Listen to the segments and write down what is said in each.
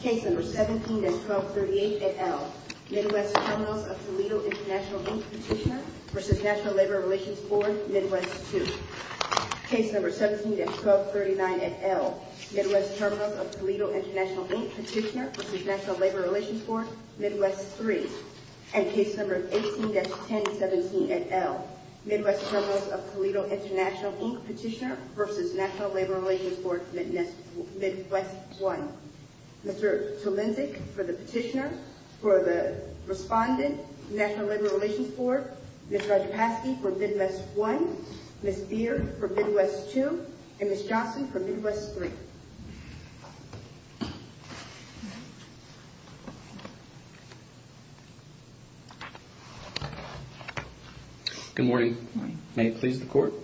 Case No. 17-1238 at L. Midwest Terminals of Toledo International, Inc. Petitioner v. NLRB, Midwest II. Case No. 17-1239 at L. Midwest Terminals of Toledo International, Inc. Petitioner v. NLRB, Midwest III. And Case No. 18-1017 at L. Midwest Terminals of Toledo International, Inc. Petitioner v. NLRB, Midwest I. Mr. Solembic for the Petitioner, for the Respondent, NLRB. Ms. Ledczkowski for Midwest I, Ms. Beard for Midwest II, and Ms. Johnson for Midwest III. Good morning. May it please the Court.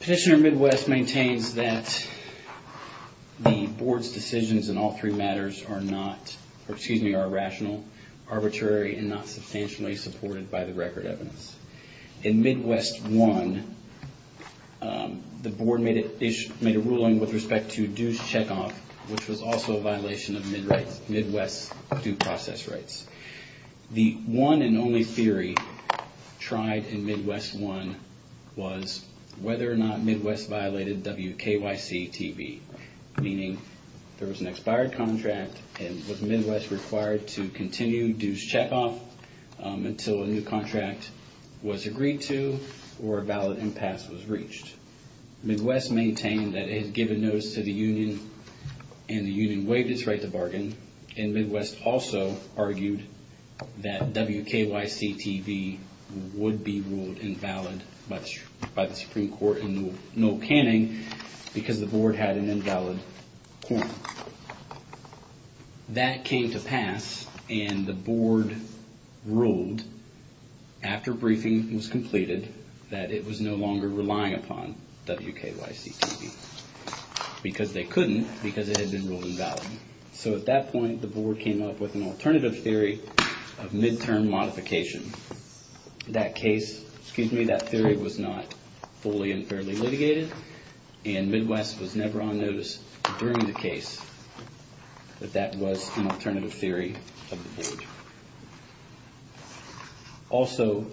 Petitioner Midwest maintains that the Board's decisions in all three matters are not, excuse me, are irrational, arbitrary, and not substantially supported by the record evidence. In Midwest I, the Board made a ruling with respect to due checkoff, which was also a violation of Midwest due process rights. The one and only theory tried in Midwest I was whether or not Midwest violated WKYC-TV, meaning there was an expired contract and was Midwest required to continue due checkoff until a new contract was agreed to or a valid impasse was reached. Midwest maintained that it had given notice to the union and the union waived its right to bargain. And Midwest also argued that WKYC-TV would be ruled invalid by the Supreme Court in no canning because the Board had an invalid point. That came to pass and the Board ruled after briefing was completed that it was no longer relying upon WKYC-TV because they couldn't because it had been ruled invalid. So at that point, the Board came up with an alternative theory of midterm modification. In that case, excuse me, that theory was not fully and fairly litigated and Midwest was never on notice during the case that that was an alternative theory of the Board. Also...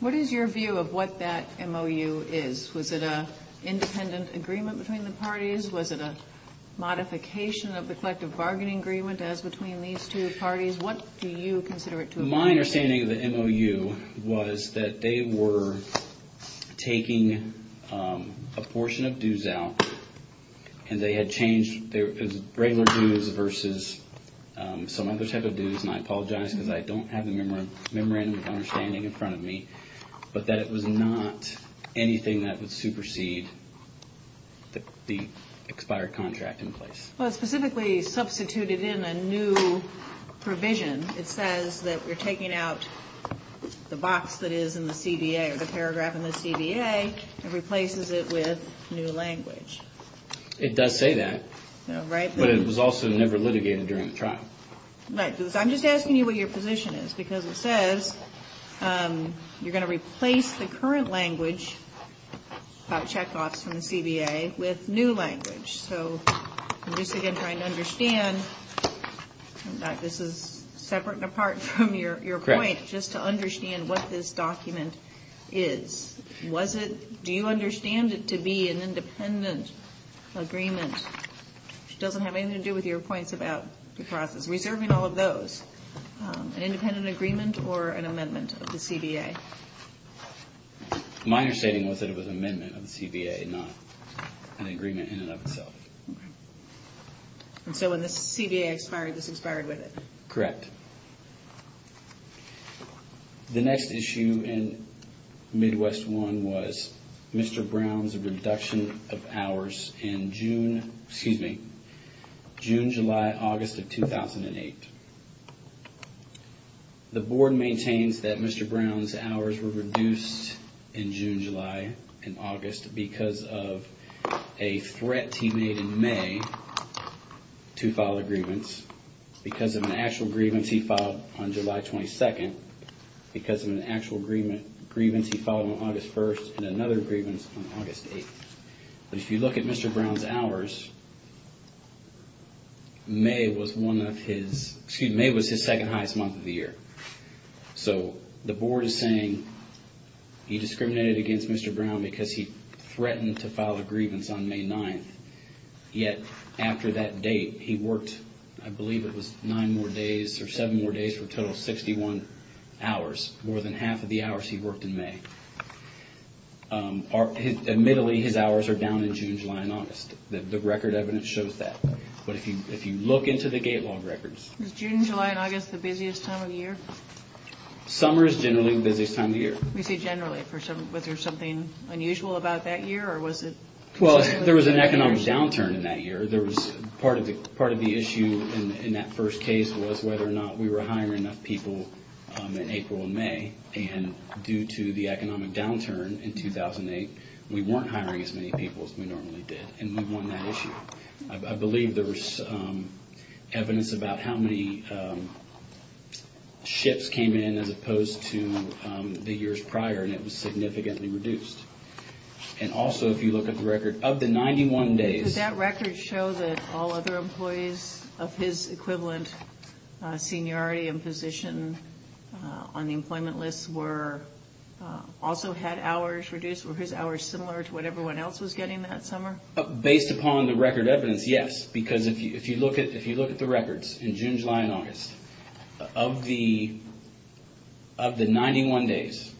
What is your view of what that MOU is? Was it an independent agreement between the parties? Was it a modification of the collective bargaining agreement as between these two parties? What do you consider it to have been? So my understanding of the MOU was that they were taking a portion of dues out and they had changed their regular dues versus some other type of dues, and I apologize because I don't have a memorandum of understanding in front of me, but that it was not anything that would supersede the expired contract in place. Well, it specifically substituted in a new provision. It says that we're taking out the box that is in the CBA or the paragraph in the CBA and replaces it with new language. It does say that. Right. But it was also never litigated during the trial. Right. I'm just asking you what your position is because it says you're going to replace the current language about check-offs from the CBA with new language. So I'm just, again, trying to understand that this is separate and apart from your point just to understand what this document is. Do you understand it to be an independent agreement? It doesn't have anything to do with your points about the process. Reserving all of those, an independent agreement or an amendment of the CBA? Okay. My understanding was that it was an amendment of the CBA, not an agreement in and of itself. So when the CBA expired, it expired with it? Correct. The next issue in Midwest I was Mr. Brown's reduction of hours in June, excuse me, June, July, August of 2008. The board maintains that Mr. Brown's hours were reduced in June, July, and August because of a threat he made in May to file a grievance. Because of an actual grievance he filed on July 22nd. Because of an actual grievance he filed on August 1st and another grievance on August 8th. If you look at Mr. Brown's hours, May was one of his, excuse me, May was his second highest month of the year. So the board is saying he discriminated against Mr. Brown because he threatened to file a grievance on May 9th. Yet, after that date, he worked, I believe it was nine more days or seven more days for a total of 61 hours. More than half of the hours he worked in May. Admittedly, his hours are down in June, July, and August. The record evidence shows that. But if you look into the gate log records. Is June, July, and August the busiest time of the year? Summer is generally the busiest time of the year. You said generally. Was there something unusual about that year or was it? Well, there was an economic downturn in that year. Part of the issue in that first case was whether or not we were hiring enough people in April and May. And due to the economic downturn in 2008, we weren't hiring as many people as we normally did. And we won that issue. I believe there was evidence about how many shifts came in as opposed to the years prior. And it was significantly reduced. And also, if you look at the record, of the 91 days. Does that record show that all other employees of his equivalent seniority and position on the employment list also had hours reduced? Were his hours similar to what everyone else was getting that summer? Based upon the record evidence, yes. Because if you look at the records in June, July, and August, of the 91 days,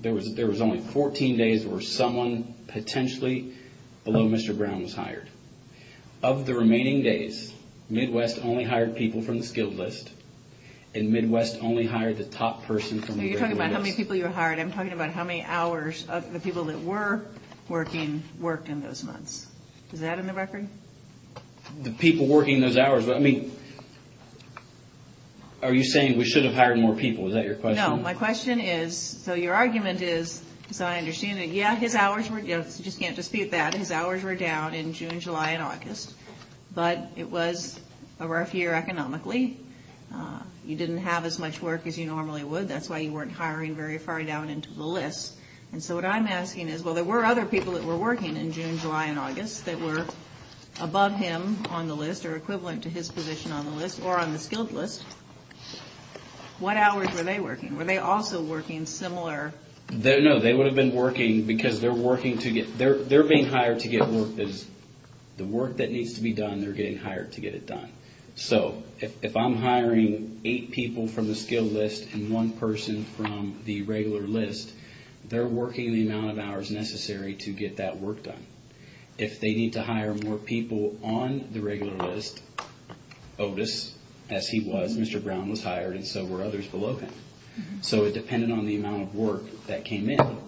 there was only 14 days where someone potentially below Mr. Brown was hired. Of the remaining days, Midwest only hired people from the skilled list. And Midwest only hired the top person from the regular list. You're talking about how many people you hired. I'm talking about how many hours of the people that were working worked in those months. Is that in the record? The people working those hours. Are you saying we should have hired more people? Is that your question? No. My question is, so your argument is, as I understand it, yes, his hours were down. You just can't dispute that. His hours were down in June, July, and August. But it was a rough year economically. You didn't have as much work as you normally would. That's why you weren't hiring very far down into the list. And so what I'm asking is, well, there were other people that were working in June, July, and August that were above him on the list, or equivalent to his position on the list, or on the skilled list. What hours were they working? Were they also working similar? No, they would have been working because they're being hired to get work done. The work that needs to be done, they're getting hired to get it done. So if I'm hiring eight people from the skilled list and one person from the regular list, they're working the amount of hours necessary to get that work done. If they need to hire more people on the regular list, Otis, as he was, Mr. Brown, was hired, and so were others below him. So it depended on the amount of work that came in. No.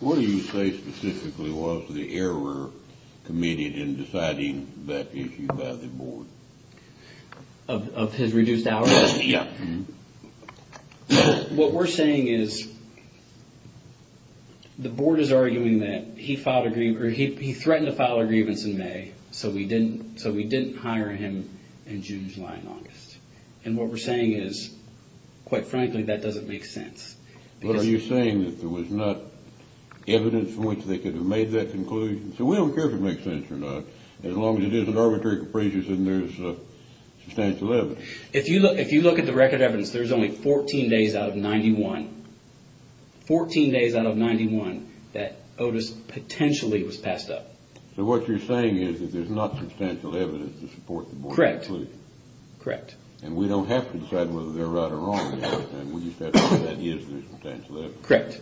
What do you say specifically was the error committed in deciding that issue by the board? Of his reduced hours? Yeah. What we're saying is the board is arguing that he threatened to file a grievance in May, so we didn't hire him in June, July, and August. And what we're saying is, quite frankly, that doesn't make sense. Well, are you saying that there was not evidence in which they could have made that conclusion? So we don't care if it makes sense or not, as long as it isn't arbitrary capricious and there's substantial evidence. If you look at the record of evidence, there's only 14 days out of 91. 14 days out of 91 that Otis potentially was passed up. So what you're saying is that there's not substantial evidence to support the board. Correct. And we don't have to decide whether they're right or wrong. Correct.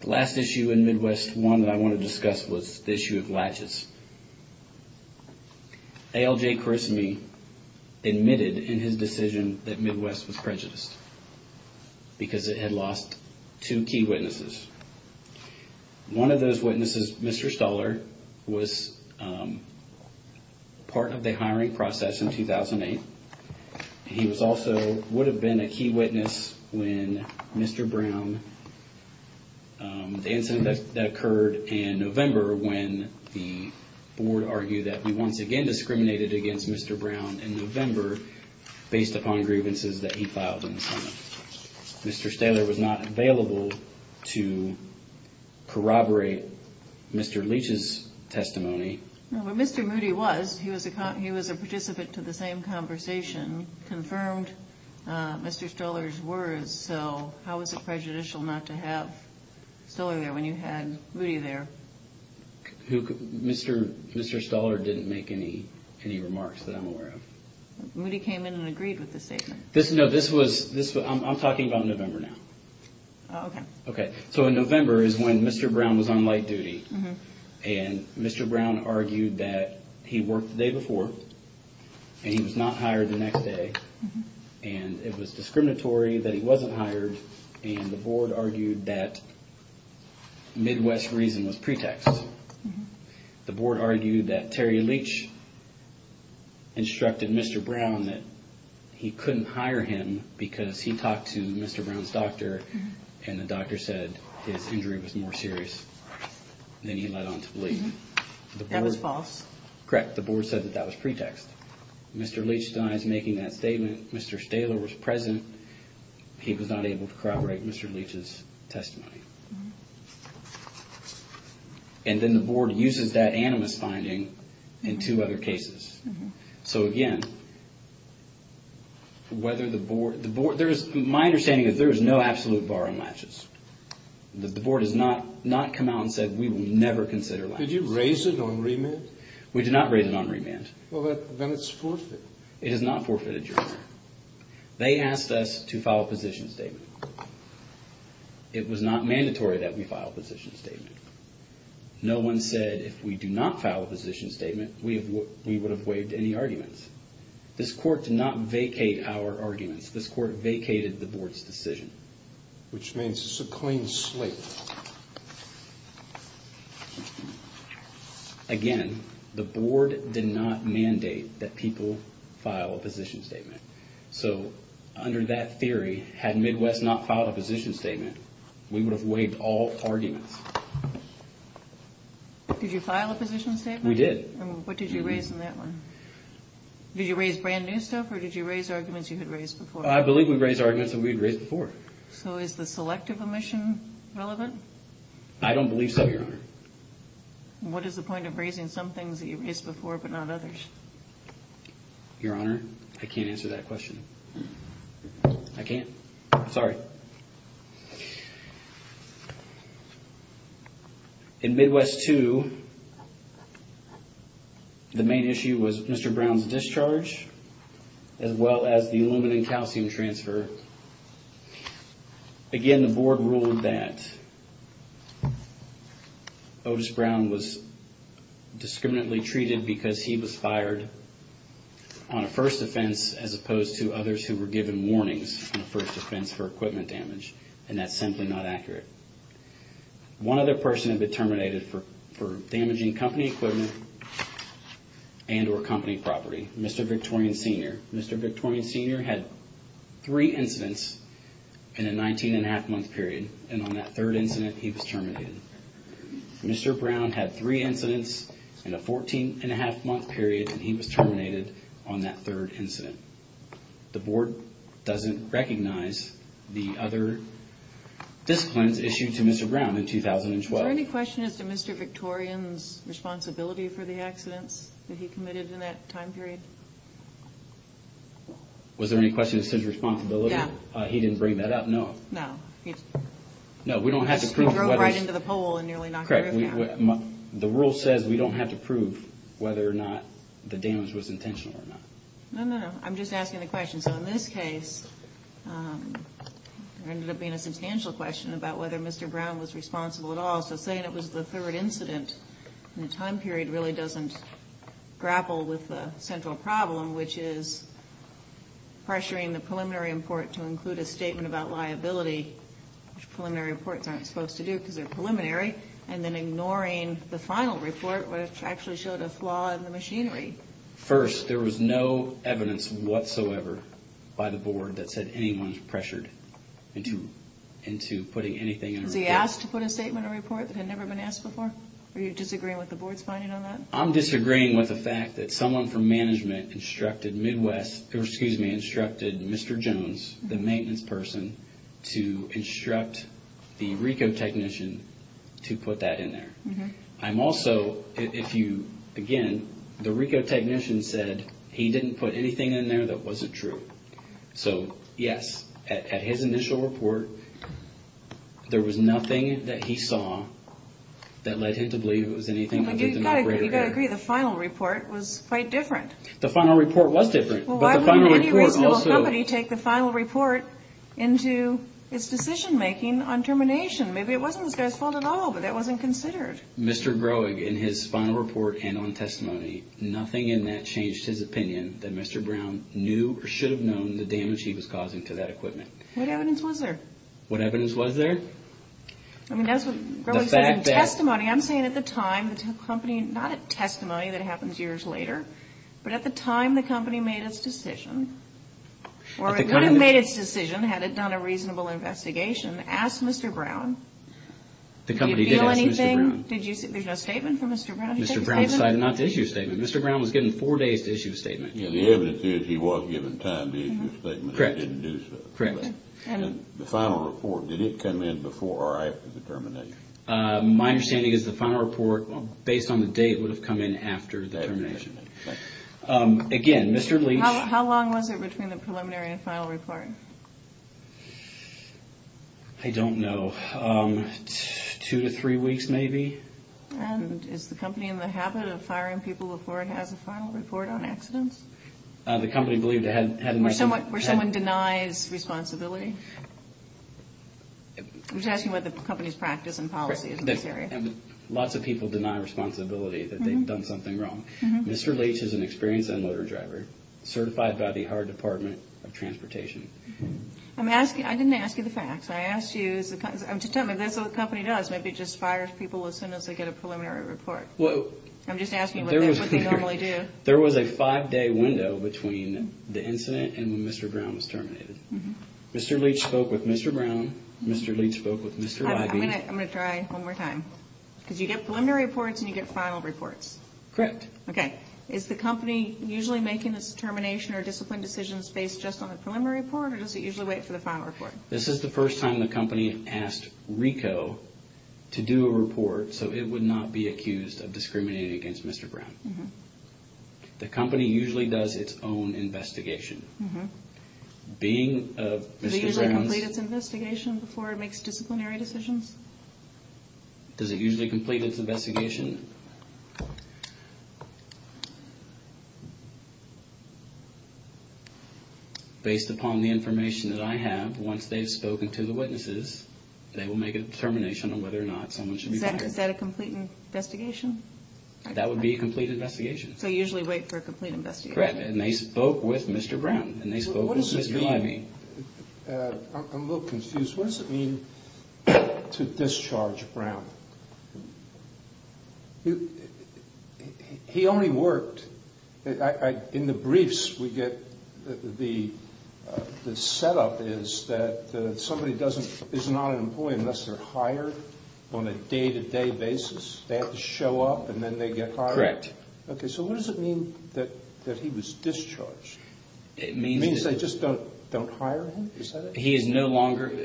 The last issue in Midwest one that I want to discuss was the issue of latches. ALJ personally admitted in his decision that Midwest was prejudiced because it had lost two key witnesses. One of those witnesses, Mr. Stoller, was part of the hiring process in 2008. He also would have been a key witness when Mr. Brown, the incident that occurred in November, when the board argued that we once again discriminated against Mr. Brown in November based upon grievances that he filed. Mr. Stoller was not available to corroborate Mr. Leach's testimony. Well, Mr. Moody was. He was a participant to the same conversation, confirmed Mr. Stoller's words. So how was it prejudicial not to have Stoller there when you had Moody there? Mr. Stoller didn't make any remarks that I'm aware of. Moody came in and agreed with the statement. No, this was – I'm talking about November now. Oh, okay. Okay. So in November is when Mr. Brown was on light duty, and Mr. Brown argued that he worked the day before, and he was not hired the next day, and it was discriminatory that he wasn't hired, and the board argued that Midwest's reasoning was pretext. The board argued that Terry Leach instructed Mr. Brown that he couldn't hire him because he talked to Mr. Brown's doctor, and the doctor said his injury was more serious than he led on to believe. That was false? Correct. The board said that that was pretext. Mr. Leach's not making that statement. Mr. Stoller was present. He was not able to corroborate Mr. Leach's testimony. And then the board uses that animus finding in two other cases. So, again, whether the board – my understanding is there is no absolute bar on latches. The board has not come out and said we will never consider latches. Did you raise it on remand? We did not raise it on remand. Well, then it's forfeited. It is not forfeited, Your Honor. They asked us to file a position statement. It was not mandatory that we file a position statement. No one said if we do not file a position statement, we would have waived any arguments. This court did not vacate our arguments. This court vacated the board's decision. Which means it's a clean slate. Again, the board did not mandate that people file a position statement. So, under that theory, had MIDWED not filed a position statement, we would have waived all arguments. Did you file a position statement? We did. What did you raise in that one? Did you raise brand new stuff or did you raise arguments you had raised before? I believe we raised arguments that we had raised before. So is the selective omission relevant? I don't believe so, Your Honor. What is the point of raising some things that you raised before but not others? Your Honor, I can't answer that question. I can't. Sorry. In Midwest 2, the main issue was Mr. Brown's discharge as well as the aluminum calcium transfer. Again, the board ruled that Otis Brown was discriminately treated because he was fired on a first offense as opposed to others who were given warnings on a first offense for equipment damage. And that's simply not accurate. One other person had been terminated for damaging company equipment and or company property, Mr. Victorian Sr. Mr. Victorian Sr. had three incidents in a 19-and-a-half-month period, and on that third incident, he was terminated. Mr. Brown had three incidents in a 14-and-a-half-month period, and he was terminated on that third incident. The board doesn't recognize the other disciplines issued to Mr. Brown in 2012. Are there any questions of Mr. Victorian's responsibility for the accidents that he committed in that time period? Was there any questions of his responsibility? No. He didn't bring that up? No. No. No, we don't have to prove whether... He broke right into the pole and nearly knocked it over. Correct. The rule says we don't have to prove whether or not the damage was intentional or not. No, no, no. I'm just asking the question. So, in this case, there ended up being a substantial question about whether Mr. Brown was responsible at all. So, saying it was the third incident in a time period really doesn't grapple with the central problem, which is pressuring the preliminary report to include a statement about liability, which preliminary reports aren't supposed to do because they're preliminary, and then ignoring the final report, which actually showed a flaw in the machinery. First, there was no evidence whatsoever by the board that said anyone was pressured into putting anything in the report. Has that never been asked before? Are you disagreeing with the board's finding on that? I'm disagreeing with the fact that someone from management instructed Mr. Jones, the maintenance person, to instruct the RICO technician to put that in there. I'm also, if you, again, the RICO technician said he didn't put anything in there that wasn't true. So, yes, at his initial report, there was nothing that he saw that led him to believe it was anything to do with the operator. You've got to agree, the final report was quite different. The final report was different, but the final report also... Well, why wouldn't anybody take the final report into its decision-making on termination? Maybe it wasn't their fault at all, but that wasn't considered. Mr. Groeg, in his final report and on testimony, nothing in that changed his opinion that Mr. Brown knew or should have known the damage he was causing to that equipment. What evidence was there? What evidence was there? I mean, that was his testimony. I'm saying at the time that his company, not a testimony that happens years later, but at the time the company made its decision, or would have made its decision had it done a reasonable investigation, asked Mr. Brown, did you feel anything? The company did ask Mr. Brown. Did you feel anything? There's no statement from Mr. Brown. Mr. Brown decided not to issue a statement. Mr. Brown was given four days to issue a statement. The evidence is he was given time to issue a statement, but he didn't do so. Correct. And the final report, did it come in before or after the termination? My understanding is the final report, based on the date, would have come in after the termination. Again, Mr. Lee... How long was it between the preliminary and final report? I don't know. Two to three weeks, maybe. And is the company in the habit of firing people before it has a final report on accidents? The company believed it had... Where someone denies responsibility? I'm just asking what the company's practice and policy is in this area. Lots of people deny responsibility, that they've done something wrong. Mr. Leach is an experienced unloader driver, certified by the Howard Department of Transportation. I didn't ask you the facts. I'm just saying, if that's what the company does, maybe it just fires people as soon as they get a preliminary report. I'm just asking what they normally do. There was a five-day window between the incident and when Mr. Brown was terminated. Mr. Leach spoke with Mr. Brown. Mr. Leach spoke with Mr. Leach. I'm going to try one more time. Because you get preliminary reports and you get final reports. Correct. Okay. Is the company usually making the termination or discipline decisions based just on the preliminary report, or does it usually wait for the final report? This is the first time the company asked RICO to do a report so it would not be accused of discriminating against Mr. Brown. The company usually does its own investigation. Does it usually complete its investigation before it makes disciplinary decisions? Does it usually complete its investigation? Based upon the information that I have, once they've spoken to the witnesses, they will make a determination on whether or not someone should be fired. Is that a complete investigation? That would be a complete investigation. They usually wait for a complete investigation. Correct. And they spoke with Mr. Brown. I'm a little confused. What does it mean to discharge Brown? He only worked. In the briefs we get, the setup is that somebody is not an employee unless they're hired on a day-to-day basis. They have to show up and then they get fired? Correct. Okay. So what does it mean that he was discharged? It means they just don't hire him? Is that it?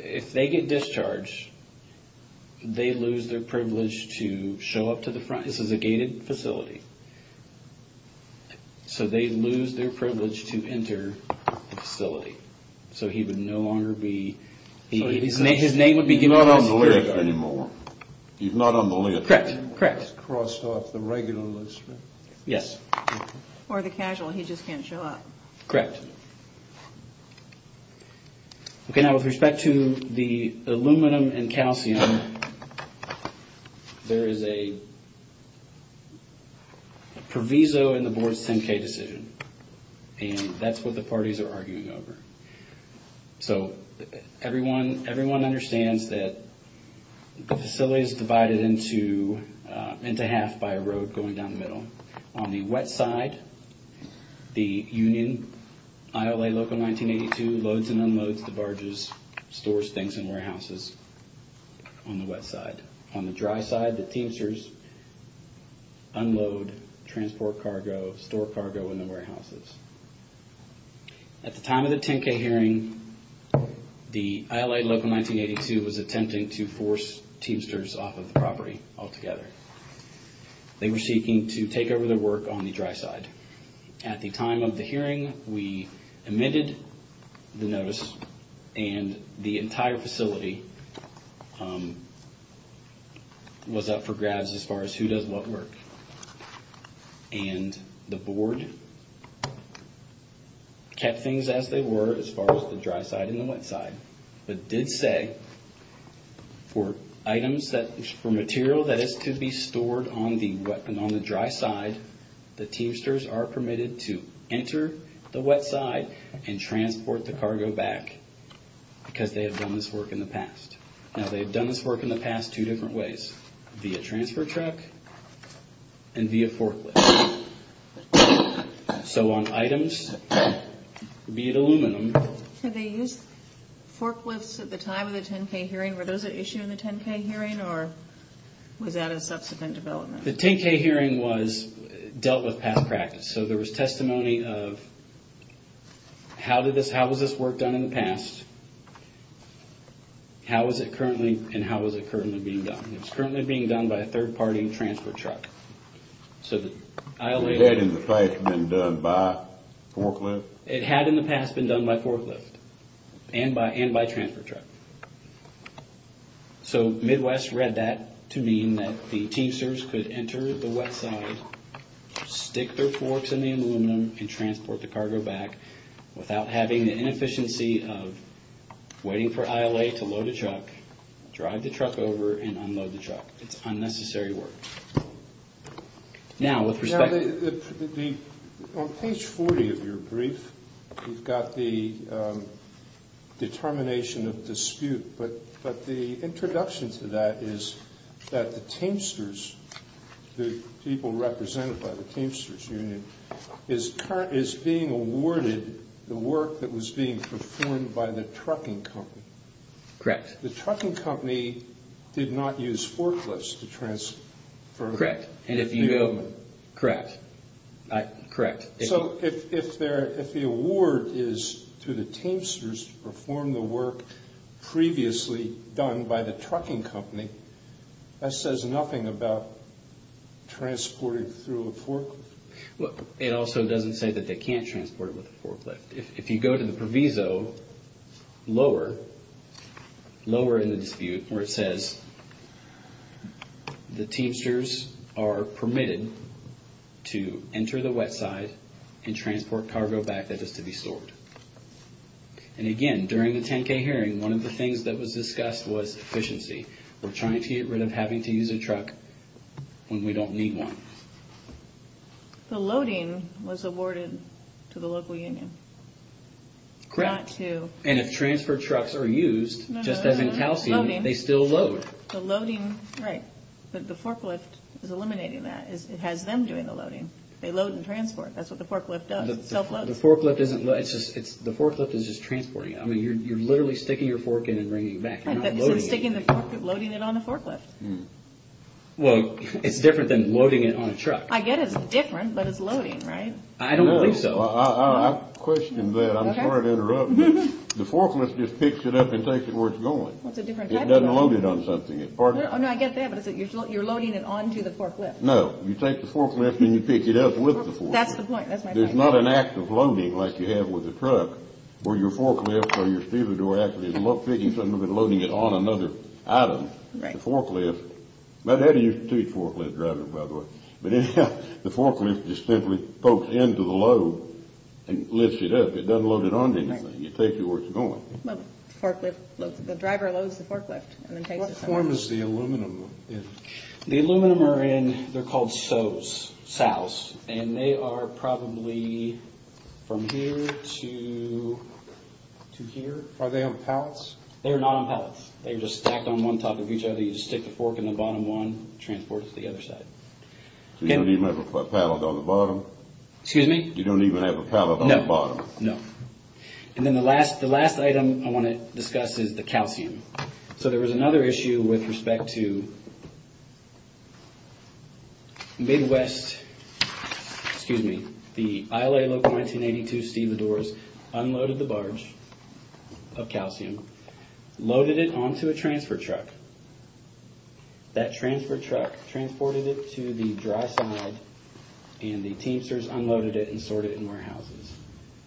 If they get discharged, they lose their privilege to show up to the front. This is a gated facility. So they lose their privilege to enter the facility. So he would no longer be- His name would be given on the list anymore. He's not on the list anymore. Correct. He's crossed off the regular list. Yes. Or the casual. He just can't show up. Correct. Okay. Now with respect to the aluminum and calcium, there is a proviso in the board's 10-K decision. And that's what the parties are arguing over. So everyone understands that the facility is divided into half by a road going down the middle. On the wet side, the union, ILA Local 1982, loads and unloads the barges, stores, banks, and warehouses on the wet side. On the dry side, the Teamsters unload, transport cargo, store cargo in the warehouses. At the time of the 10-K hearing, the ILA Local 1982 was attempting to force Teamsters off of the property altogether. They were seeking to take over their work on the dry side. At the time of the hearing, we admitted the notice and the entire facility was up for grabs as far as who does what work. And the board kept things as they were as far as the dry side and the wet side. But did say for items, for material that is to be stored on the dry side, the Teamsters are permitted to enter the wet side and transport the cargo back because they have done this work in the past. Now they have done this work in the past two different ways, via transfer truck and via forklift. So on items, be it aluminum... Did they use forklifts at the time of the 10-K hearing? Were those issued in the 10-K hearing or was that a subsequent development? The 10-K hearing dealt with past practice. So there was testimony of how was this work done in the past, how is it currently, and how is it currently being done. It's currently being done by a third-party transfer truck. Was that in the past been done by forklift? It had in the past been done by forklift and by transfer truck. So Midwest read that to mean that the Teamsters could enter the wet side, stick their forks in the aluminum, and transport the cargo back without having the inefficiency of waiting for ILA to load a truck, drive the truck over and unload the truck. It's unnecessary work. Now, with respect... On page 40 of your brief, you've got the determination of dispute, but the introduction to that is that the Teamsters, the people represented by the Teamsters Union, is being awarded the work that was being performed by the trucking company. Correct. The trucking company did not use forklifts to transfer... Correct. And if you... Correct. So if the award is to the Teamsters to perform the work previously done by the trucking company, that says nothing about transporting through a forklift. It also doesn't say that they can't transport it with a forklift. If you go to the proviso lower, lower in the dispute where it says, the Teamsters are permitted to enter the wet side and transport cargo back that is to be stored. And again, during the 10K hearing, one of the things that was discussed was efficiency. We're trying to get rid of having to use a truck when we don't need one. The loading was awarded to the local union. Correct. Not to... And if transfer trucks are used, just as in calcium, they still load. The loading, right. But the forklift is eliminating that. It has them doing the loading. They load and transport. That's what the forklift does. It self-loads. The forklift isn't... The forklift is just transporting. I mean, you're literally sticking your fork in and bringing it back. You're not loading it. You're sticking the fork, loading it on the forklift. Well, it's different than loading it on a truck. I get it's different, but it's loading, right? I don't think so. I questioned that. I'm sorry to interrupt. The forklift just picks it up and takes it where it's going. It doesn't load it on something. No, I get that, but you're loading it onto the forklift. No. You take the forklift and you pick it up with the forklift. That's the point. There's not an act of loading like you have with a truck where your forklift or your steel door actually is picking something up and loading it on another item. The forklift... My daddy used to teach forklift driving, by the way. But anyhow, the forklift just simply pokes into the load and lifts it up. It doesn't load it on anything. You take it where it's going. Well, the forklift... The driver loads the forklift and then takes it... What form is the aluminum in? The aluminum are in... They're called sows, sows. And they are probably from here to here. Are they on pallets? They're not on pallets. They're just stacked on one top of each other. You just stick the fork in the bottom one, transport it to the other side. You don't even have a pallet on the bottom? Excuse me? You don't even have a pallet on the bottom? No. No. And then the last item I want to discuss is the calcium. So there was another issue with respect to Big West... Excuse me. The ILA Local 1982 sealant doors unloaded the barge of calcium, loaded it onto a transfer truck. That transfer truck transported it to the dry side, and the Teamsters unloaded it and stored it in warehouses.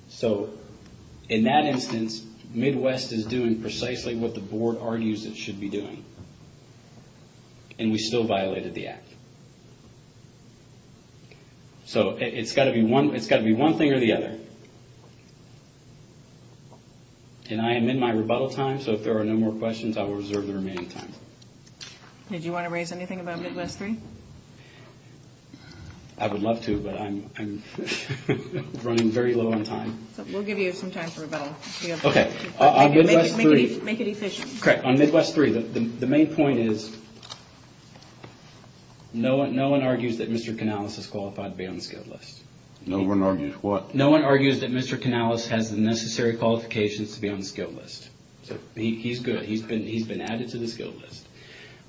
So in that instance, Midwest is doing precisely what the board argues it should be doing, and we still violated the act. So it's got to be one thing or the other. And I am in my rebuttal time, so if there are no more questions, I will reserve the remaining time. Did you want to raise anything about Midwest 3? I would love to, but I'm running very low on time. We'll give you some time to rebuttal. Okay. Make it efficient. Correct. On Midwest 3, the main point is no one argues that Mr. Canales is qualified to be on the skill list. No one argues what? No one argues that Mr. Canales has the necessary qualifications to be on the skill list. He's good. He's been added to the skill list.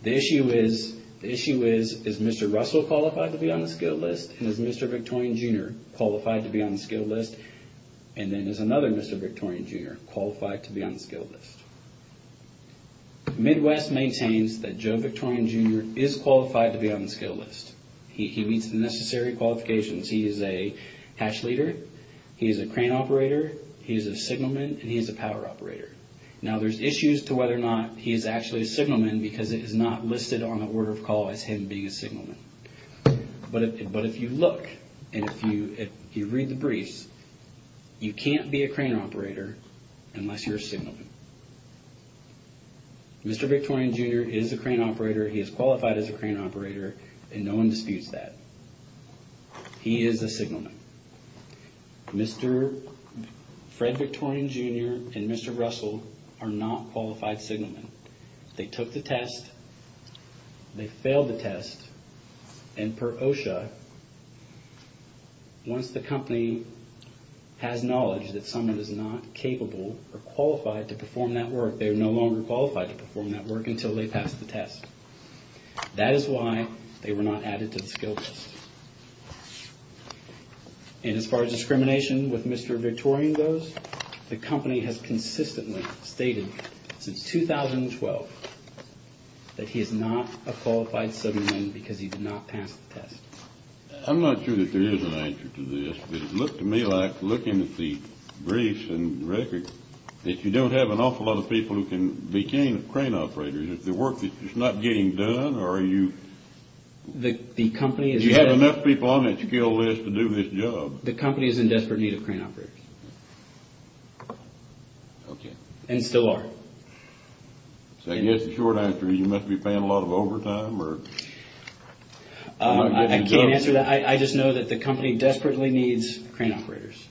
The issue is, is Mr. Russell qualified to be on the skill list, and is Mr. Victoria Jr. qualified to be on the skill list, and then there's another Mr. Victoria Jr. qualified to be on the skill list. Midwest maintains that Joe Victoria Jr. is qualified to be on the skill list. He meets the necessary qualifications. He is a hatch leader. He is a crane operator. He is a signalman, and he is a power operator. Now, there's issues to whether or not he is actually a signalman because it is not listed on the order of call as him being a signalman. But if you look and if you read the briefs, you can't be a crane operator unless you're a signalman. Mr. Victoria Jr. is a crane operator. He is qualified as a crane operator, and no one disputes that. He is a signalman. Mr. Fred Victoria Jr. and Mr. Russell are not qualified signalmen. They took the test. They failed the test. And per OSHA, once the company has knowledge that someone is not capable or qualified to perform that work, they are no longer qualified to perform that work until they pass the test. That is why they were not added to the skill list. And as far as discrimination with Mr. Victoria goes, the company has consistently stated since 2012 that he is not a qualified signalman because he did not pass the test. I'm not sure that there is an answer to this, but it looked to me like, looking at the briefs and records, that you don't have an awful lot of people who can be trained crane operators. It's the work that's not getting done, or you have enough people on that skill list to do this job. The company is in desperate need of crane operators. Okay. And still are. So I guess the short answer is you must be paying a lot of overtime, or... I can't answer that. I just know that the company desperately needs crane operators.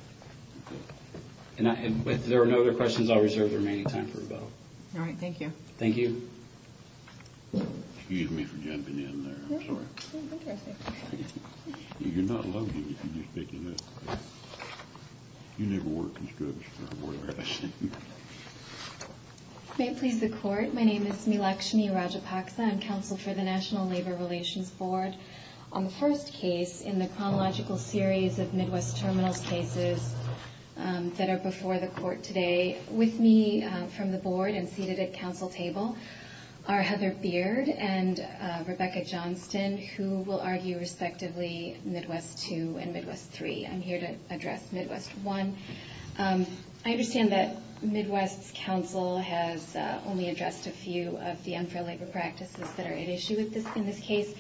But there are no other questions I'll reserve the remaining time for. All right. Thank you. Thank you. Excuse me for jumping in there. No, sure. You're not lucky if you do speak English. You never were a conspirator. May it please the Court. My name is Milakshmi Rajapaksa. I'm counsel for the National Labor Relations Board. On the first case in the chronological series of Midwest terminal cases that are before the Court today, with me from the Board, I'm seated at counsel table, are Heather Beard and Rebecca Johnston, who will argue respectively Midwest 2 and Midwest 3. I'm here to address Midwest 1. I understand that Midwest's counsel has only addressed a few of the unfair labor practices that are at issue in this case.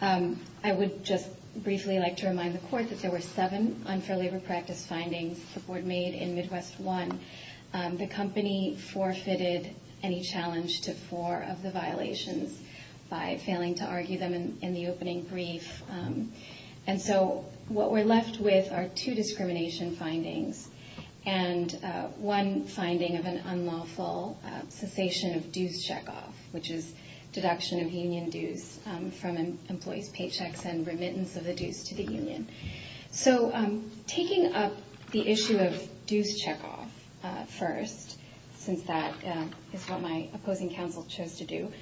I would just briefly like to remind the Court that there were seven unfair labor practice findings the Board made in Midwest 1. The company forfeited any challenge to four of the violations by failing to argue them in the opening brief. And so what we're left with are two discrimination findings and one finding of an unlawful cessation of dues checkoff, which is deduction of union dues from employees' paychecks and remittance of the dues to the union. So taking up the issue of dues checkoff first, since that is what my opposing counsel chose to do,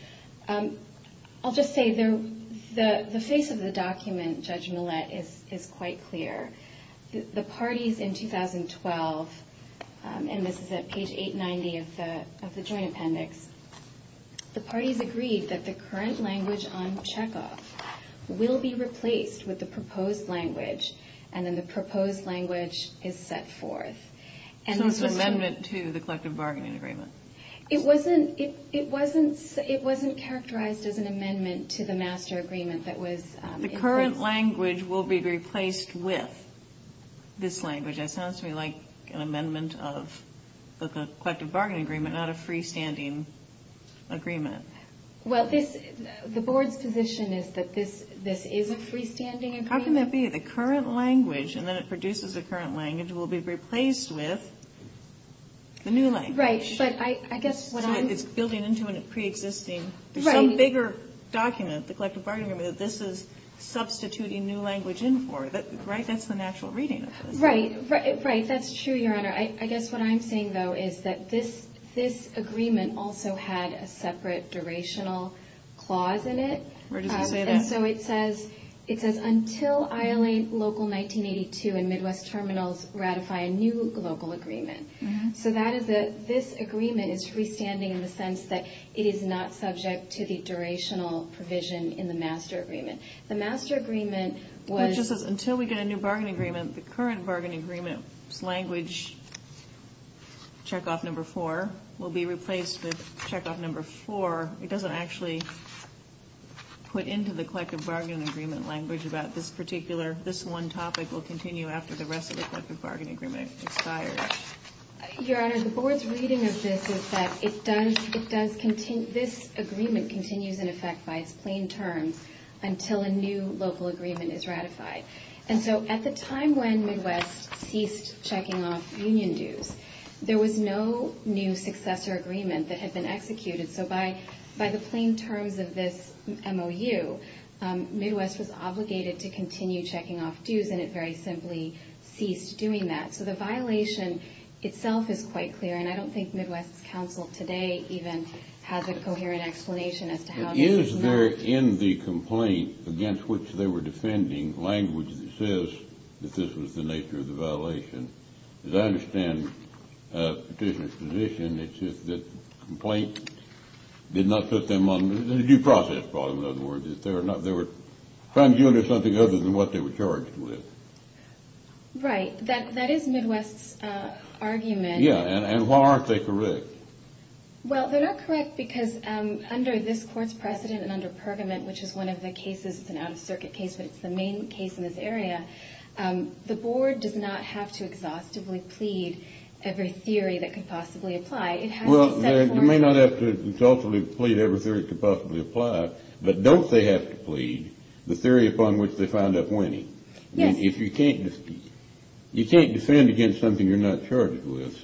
I'll just say the face of the document, Judge Millett, is quite clear. The parties in 2012, and this is at page 890 of the jury appendix, the parties agreed that the current language on checkoff will be replaced with the proposed language, and then the proposed language is set forth. So it's an amendment to the collective bargaining agreement. It wasn't characterized as an amendment to the master agreement. The current language will be replaced with this language. It sounds to me like an amendment of the collective bargaining agreement, not a freestanding agreement. Well, the Board's position is that this is a freestanding agreement. How can that be? The current language, and then it produces a current language, will be replaced with the new language. Right. But I guess what I'm... It's building into a preexisting, some bigger document, the collective bargaining agreement, that this is substituting new language in for. Right? That's the natural reading. Right. Right. That's true, Your Honor. I guess what I'm saying, though, is that this agreement also had a separate durational clause in it. Where does it say that? And so it says, it says, Until Island Local 1982 and Midwest Terminals ratify a new local agreement. So that is a, this agreement is freestanding in the sense that it is not subject to the durational provision in the master agreement. The master agreement was... It just says, until we get a new bargaining agreement, the current bargaining agreement language, checkoff number four, will be replaced with checkoff number four. It doesn't actually put into the collective bargaining agreement language about this particular, this one topic will continue after the rest of the collective bargaining agreement expires. Your Honor, the board's reading of this is that it does, it does, this agreement continues in effect by a plain term until a new local agreement is ratified. And so at the time when Midwest ceased checking off union dues, there was no new successor agreement that had been executed. So by the plain terms of this MOU, Midwest was obligated to continue checking off dues, and it very simply ceased doing that. So the violation itself is quite clear, and I don't think Midwest's counsel today even has a coherent explanation as to how that came about. Is there in the complaint against which they were defending language that says that this was the nature of the violation? As I understand the position, it's just that the complaint did not put them on the due process, as far as I know, there were crimes due under something other than what they were charged with. Right, that is Midwest's argument. Yeah, and why aren't they correct? Well, they're not correct because under this Court's precedent and under Pergament, which is one of the cases, an out-of-circuit case, which is the main case in this area, the Board does not have to exhaustively plead every theory that could possibly apply. Well, they may not have to exhaustively plead every theory that could possibly apply, but don't they have to plead the theory upon which they found a point? Yes. If you can't defend against something you're not charged with,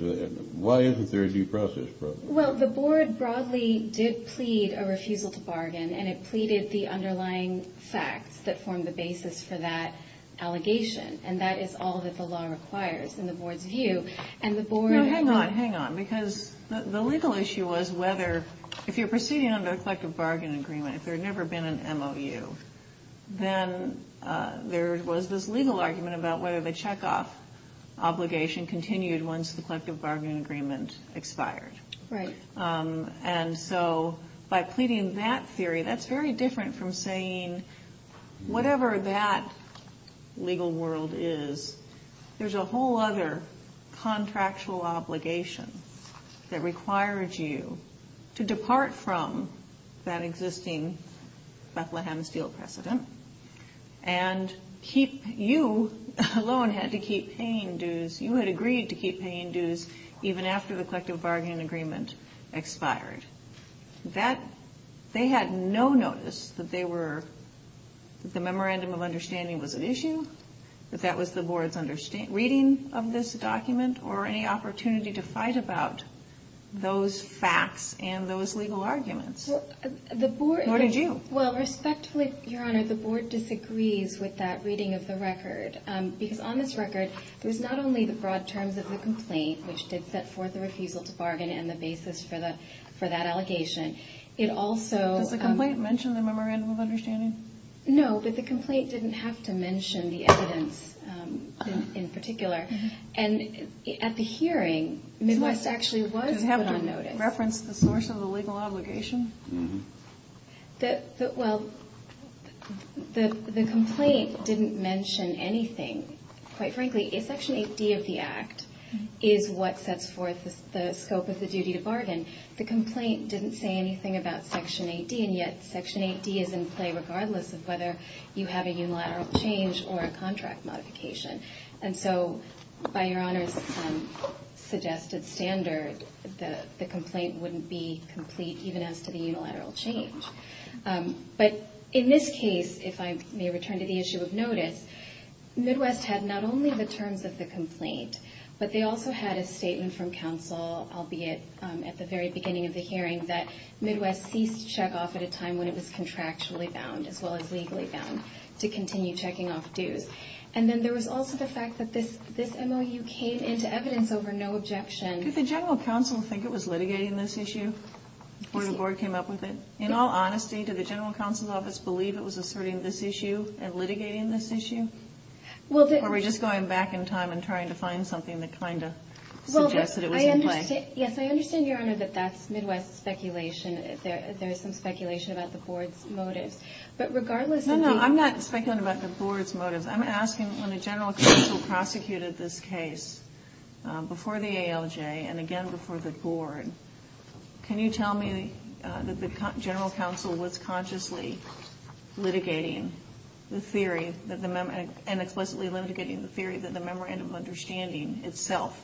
why isn't there a due process problem? Well, the Board broadly did plead a refusal to bargain, and it pleaded the underlying facts that formed the basis for that allegation, and that is all that the law requires in the Board's view. Hang on, hang on, because the legal issue was whether if you're proceeding under a collective bargain agreement, if there had never been an MOU, then there was this legal argument about whether the checkoff obligation continued once the collective bargain agreement expired. Right. And so by pleading that theory, that's very different from saying whatever that legal world is, there's a whole other contractual obligation that requires you to depart from that existing Bethlehem Steel precedent And you alone had to keep paying dues. You had agreed to keep paying dues even after the collective bargaining agreement expired. They had no notice that the memorandum of understanding was an issue, that that was the Board's reading of this document, or any opportunity to fight about those facts and those legal arguments. The Board... What did you? Well, respectfully, Your Honor, the Board disagrees with that reading of the record, because on this record, there's not only the broad terms of the complaint, which did set forth the refusal to bargain and the basis for that allegation. It also... Did the complaint mention the memorandum of understanding? No, but the complaint didn't have to mention the evidence in particular. And at the hearing, it was actually... Did it have to reference the source of the legal obligation? Well, the complaint didn't mention anything. Quite frankly, if Section 8B of the Act is what sets forth the scope of the duty to bargain, the complaint didn't say anything about Section 8B, and yet Section 8B is in play regardless of whether you have a unilateral change or a contract modification. And so, by Your Honor's suggested standards, the complaint wouldn't be complete, even as to the unilateral change. But in this case, if I may return to the issue of notice, Midwest had not only the terms of the complaint, but they also had a statement from counsel, albeit at the very beginning of the hearing, that Midwest ceased shut off at a time when it was contractually bound, as well as legally bound, to continue checking off dues. And then there was also the fact that this MOU came into evidence over no objection... Did the general counsel think it was litigating this issue before the board came up with it? In all honesty, did the general counsel's office believe it was asserting this issue and litigating this issue? Or were they just going back in time and trying to find something that kind of suggested it was in play? Yes, I understand, Your Honor, that that's Midwest speculation. There is some speculation about the board's motive. But regardless... I'm asking, when the general counsel prosecuted this case before the ALJ and again before the board, can you tell me that the general counsel was consciously litigating the theory, and explicitly litigating the theory, that the memorandum of understanding itself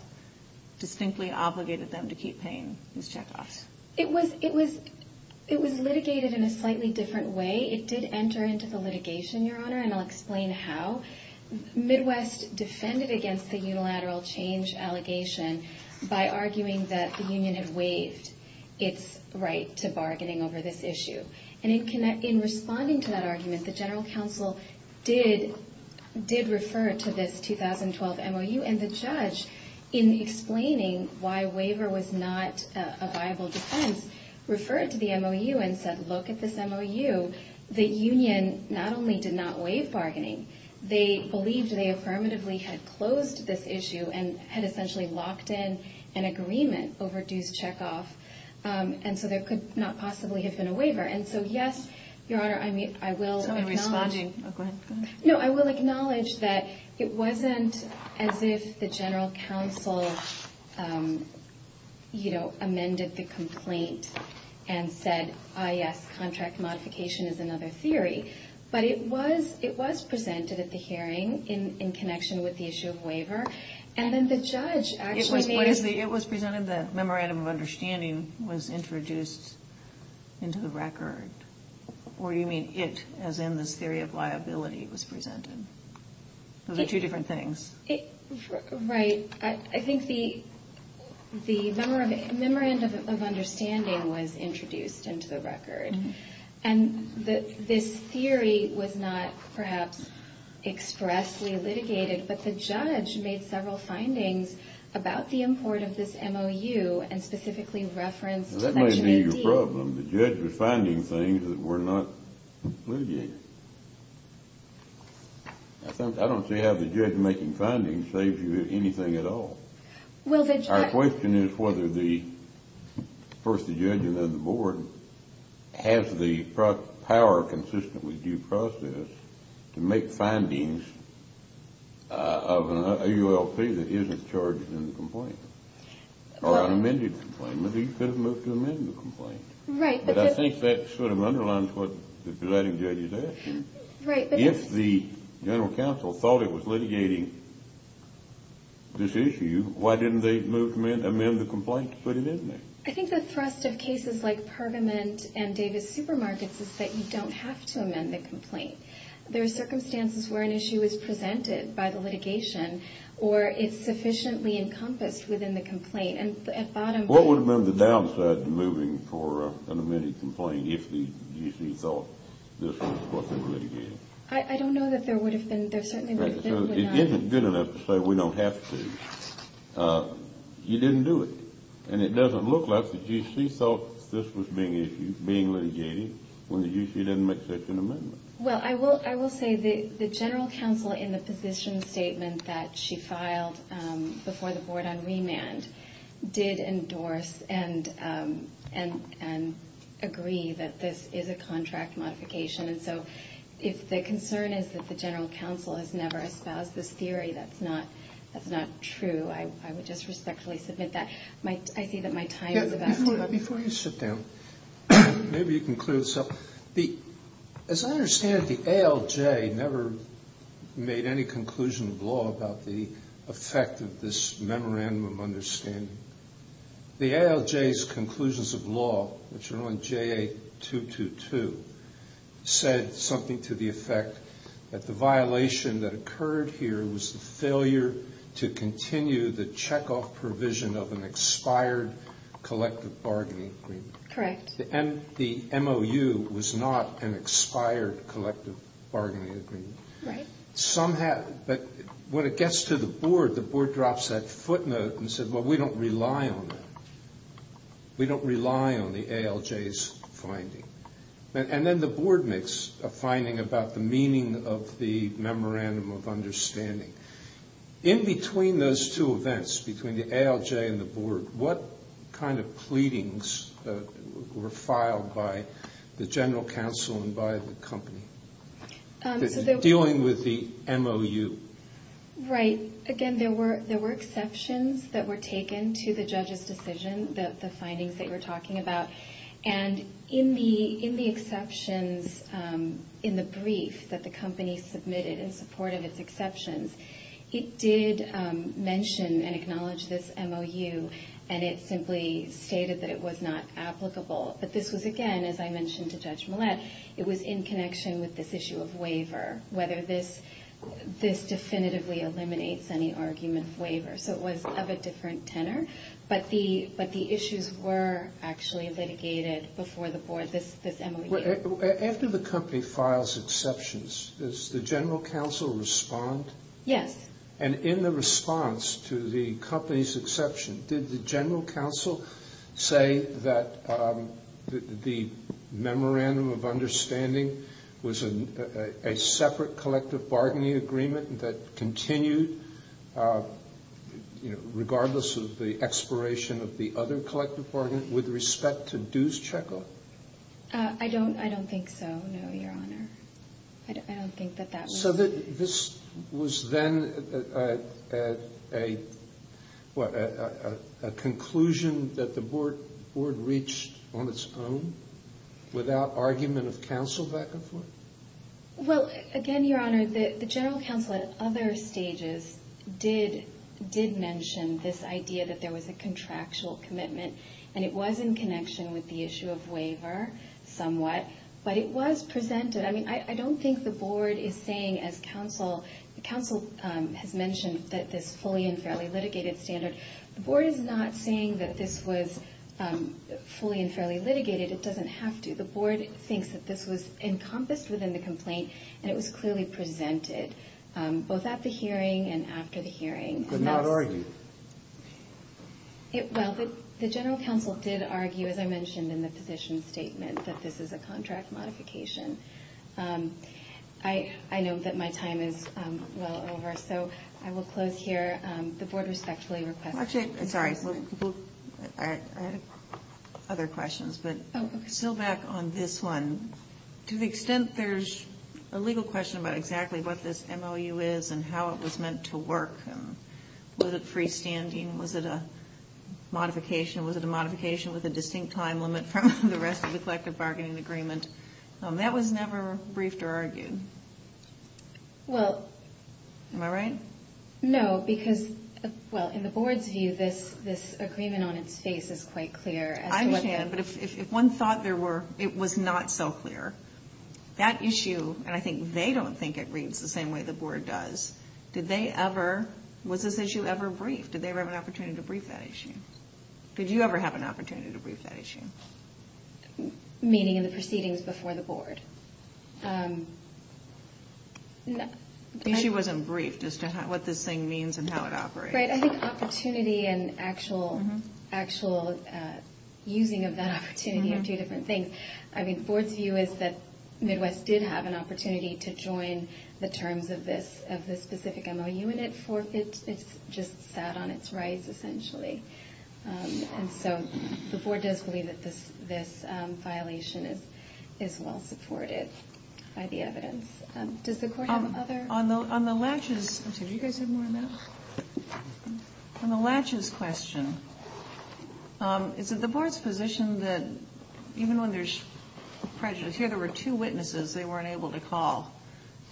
distinctly obligated them to keep paying these checkoffs? It was litigated in a slightly different way. It did enter into the litigation, Your Honor, and I'll explain how. Midwest defended against the unilateral change allegation by arguing that the union had waived its right to bargaining over this issue. And in responding to that argument, the general counsel did refer to this 2012 MOU, and the judge, in explaining why waiver was not a viable defense, referred to the MOU and said, look at this MOU. The union not only did not waive bargaining, they believed they affirmatively had closed this issue and had essentially locked in an agreement over dues checkoff, and so there could not possibly have been a waiver. And so, yes, Your Honor, I will acknowledge... I'm responding. Go ahead. No, I will acknowledge that it wasn't as if the general counsel, you know, amended the complaint and said, ah, yes, contract modification is another theory. But it was presented at the hearing in connection with the issue of waiver, and then the judge actually made... It was presented that memorandum of understanding was introduced into the record. Or do you mean it as in this theory of liability was presented? Those are two different things. Right. I think the memorandum of understanding was introduced into the record. And this theory was not perhaps expressly litigated, but the judge made several findings about the importance of this MOU and specifically referenced... Well, that may be your problem. The judge was finding things that were not litigated. I don't see how the judge making findings saves you anything at all. Well, the judge... Our question is whether the first judge and then the board has the power consistently due process to make findings of an AULP that isn't charged in the complaint or an amended complaint. Right. But I think that sort of underlines what the presiding judge is asking. Right. If the general counsel thought it was litigating this issue, why didn't they amend the complaint to put it in there? I think the thrust of cases like Pergament and Davis Supermarkets is that you don't have to amend the complaint. There are circumstances where an issue is presented by the litigation or it's sufficiently encompassed within the complaint. What would have been the downside to moving for an amended complaint if the UC thought this was what they really did? I don't know that there would have been. It isn't good enough to say we don't have to. You didn't do it. And it doesn't look like the UC thought this was being litigated when the UC didn't make such an amendment. Well, I will say the general counsel in the position statement that she filed before the board on remand did endorse and agree that this is a contract modification. So if the concern is that the general counsel has never espoused this theory, that's not true. I would just respectfully submit that. I see that my time is about up. Before you sit down, maybe you can clear this up. As I understand it, the ALJ never made any conclusion of law about the effect of this memorandum of understanding. The ALJ's conclusions of law, which are on JA-222, said something to the effect that the violation that occurred here was the failure to continue the checkoff provision of an expired collective bargaining agreement. Correct. The MOU was not an expired collective bargaining agreement. Right. But when it gets to the board, the board drops that footnote and says, well, we don't rely on that. We don't rely on the ALJ's finding. And then the board makes a finding about the meaning of the memorandum of understanding. In between those two events, between the ALJ and the board, what kind of pleadings were filed by the general counsel and by the company dealing with the MOU? Right. Again, there were exceptions that were taken to the judge's decision, the findings that you're talking about. And in the exceptions in the brief that the company submitted in support of its exceptions, it did mention and acknowledge this MOU, and it simply stated that it was not applicable. But this was, again, as I mentioned to Judge Millett, it was in connection with this issue of waiver, whether this definitively eliminates any argument of waiver. So it was of a different tenor. But the issues were actually litigated before the board, this MOU. After the company files exceptions, does the general counsel respond? Yes. And in the response to the company's exception, did the general counsel say that the memorandum of understanding was a separate collective bargaining agreement that continued regardless of the aspiration of the other collective bargaining with respect to dues check-off? I don't think so, no, Your Honor. I don't think that that was the case. So this was then a conclusion that the board reached on its own without argument of counsel back and forth? Well, again, Your Honor, the general counsel at other stages did mention this idea that there was a contractual commitment, and it was in connection with the issue of waiver somewhat, but it was presented. I mean, I don't think the board is saying, as counsel has mentioned, that this fully and fairly litigated standard. The board is not saying that this was fully and fairly litigated. It doesn't have to. The board thinks that this was encompassed within the complaint and it was clearly presented both at the hearing and after the hearing. But not argued? Well, the general counsel did argue, as I mentioned in the position statement, that this is a contract modification. I know that my time is well over, so I will close here. The board respectfully requests a motion. Actually, sorry, I had other questions, but to go back on this one, to the extent there's a legal question about exactly what this MOU is and how it was meant to work. Was it freestanding? Was it a modification? Was it a modification with a distinct time limit from the rest of the collective bargaining agreement? That was never briefed or argued. Am I right? No, because in the board's view, this agreement on its face is quite clear. I understand, but if one thought it was not so clear, that issue, and I think they don't think it reads the same way the board does, did they ever, was this issue ever briefed? Did they ever have an opportunity to brief that issue? Did you ever have an opportunity to brief that issue? Meaning in the proceedings before the board. The issue wasn't briefed as to what this thing means and how it operates. Right. I think opportunity and actual using of that opportunity are two different things. I think the board's view is that Midwest did have an opportunity to join the terms of this specific MOU, and it's just that on its rights, essentially. And so the board does believe that this violation is well supported by the evidence. Does the board have other? On the latches question, is it the board's position that even when there's prejudice, here there were two witnesses they weren't able to call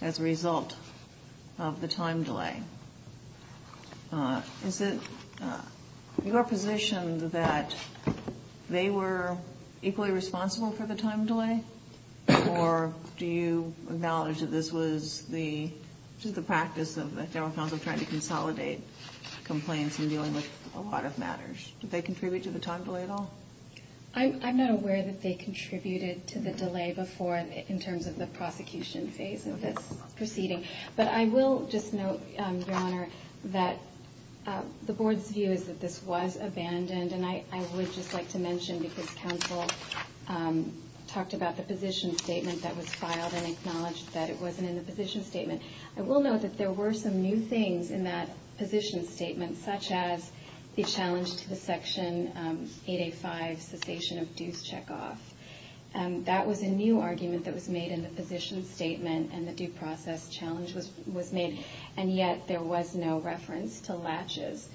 as a result of the time delay. Is it your position that they were equally responsible for the time delay, or do you acknowledge that this was the practice of the general counsel trying to consolidate complaints and dealing with a lot of matters? Did they contribute to the time delay at all? I'm not aware that they contributed to the delay before in terms of the provocation phase of this proceeding. But I will just note, Your Honor, that the board's view is that this was abandoned, and I would just like to mention because counsel talked about the position statement that was filed and acknowledged that it wasn't in the position statement. I will note that there were some new things in that position statement, such as it challenged the Section 885 cessation of dues checkoff. That was a new argument that was made in the position statement, and the due process challenge was made, and yet there was no reference to latches.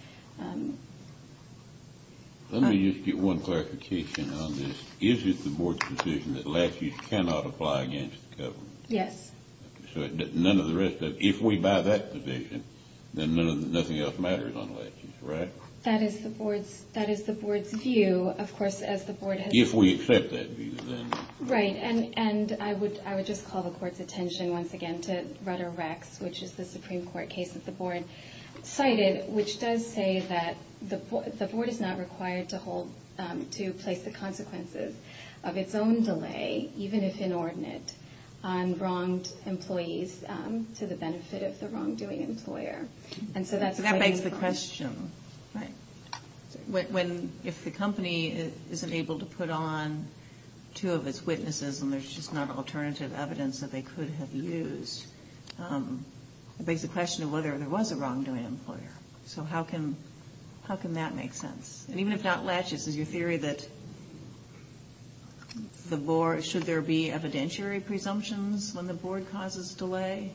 Let me just get one clarification on this. Is it the board's position that latches cannot apply against the government? Yes. So none of the rest of it. If we buy that position, then nothing else matters on latches, right? That is the board's view, of course, as the board has decided. If we accept that view, then. Right, and I would just call the court's attention once again to Rutter-Wex, which is the Supreme Court case that the board cited, which does say that the board is not required to place the consequences of its own delay, even if inordinate, on wronged employees to the benefit of the wrongdoing employer. That begs the question. If the company isn't able to put on two of its witnesses and there's just not alternative evidence that they could have used, it begs the question of whether there was a wrongdoing employer. So how can that make sense? And even if that latches, is your theory that should there be evidentiary presumptions when the board causes delay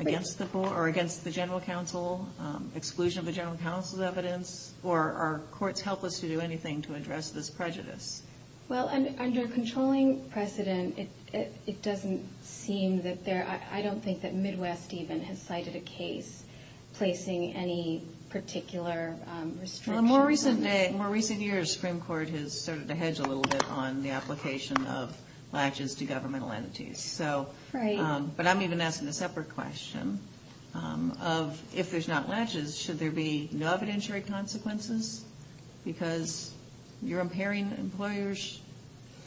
against the general counsel, exclusion of the general counsel's evidence, or are courts helpless to do anything to address this prejudice? Well, under controlling precedent, it doesn't seem that there – I don't think that Midwest even has cited a case placing any particular restriction. Well, in more recent years, the Supreme Court has started to hedge a little bit on the application of latches to governmental entities. Right. But I'm even asking a separate question of if there's not latches, should there be no evidentiary consequences? Because you're impairing the employer's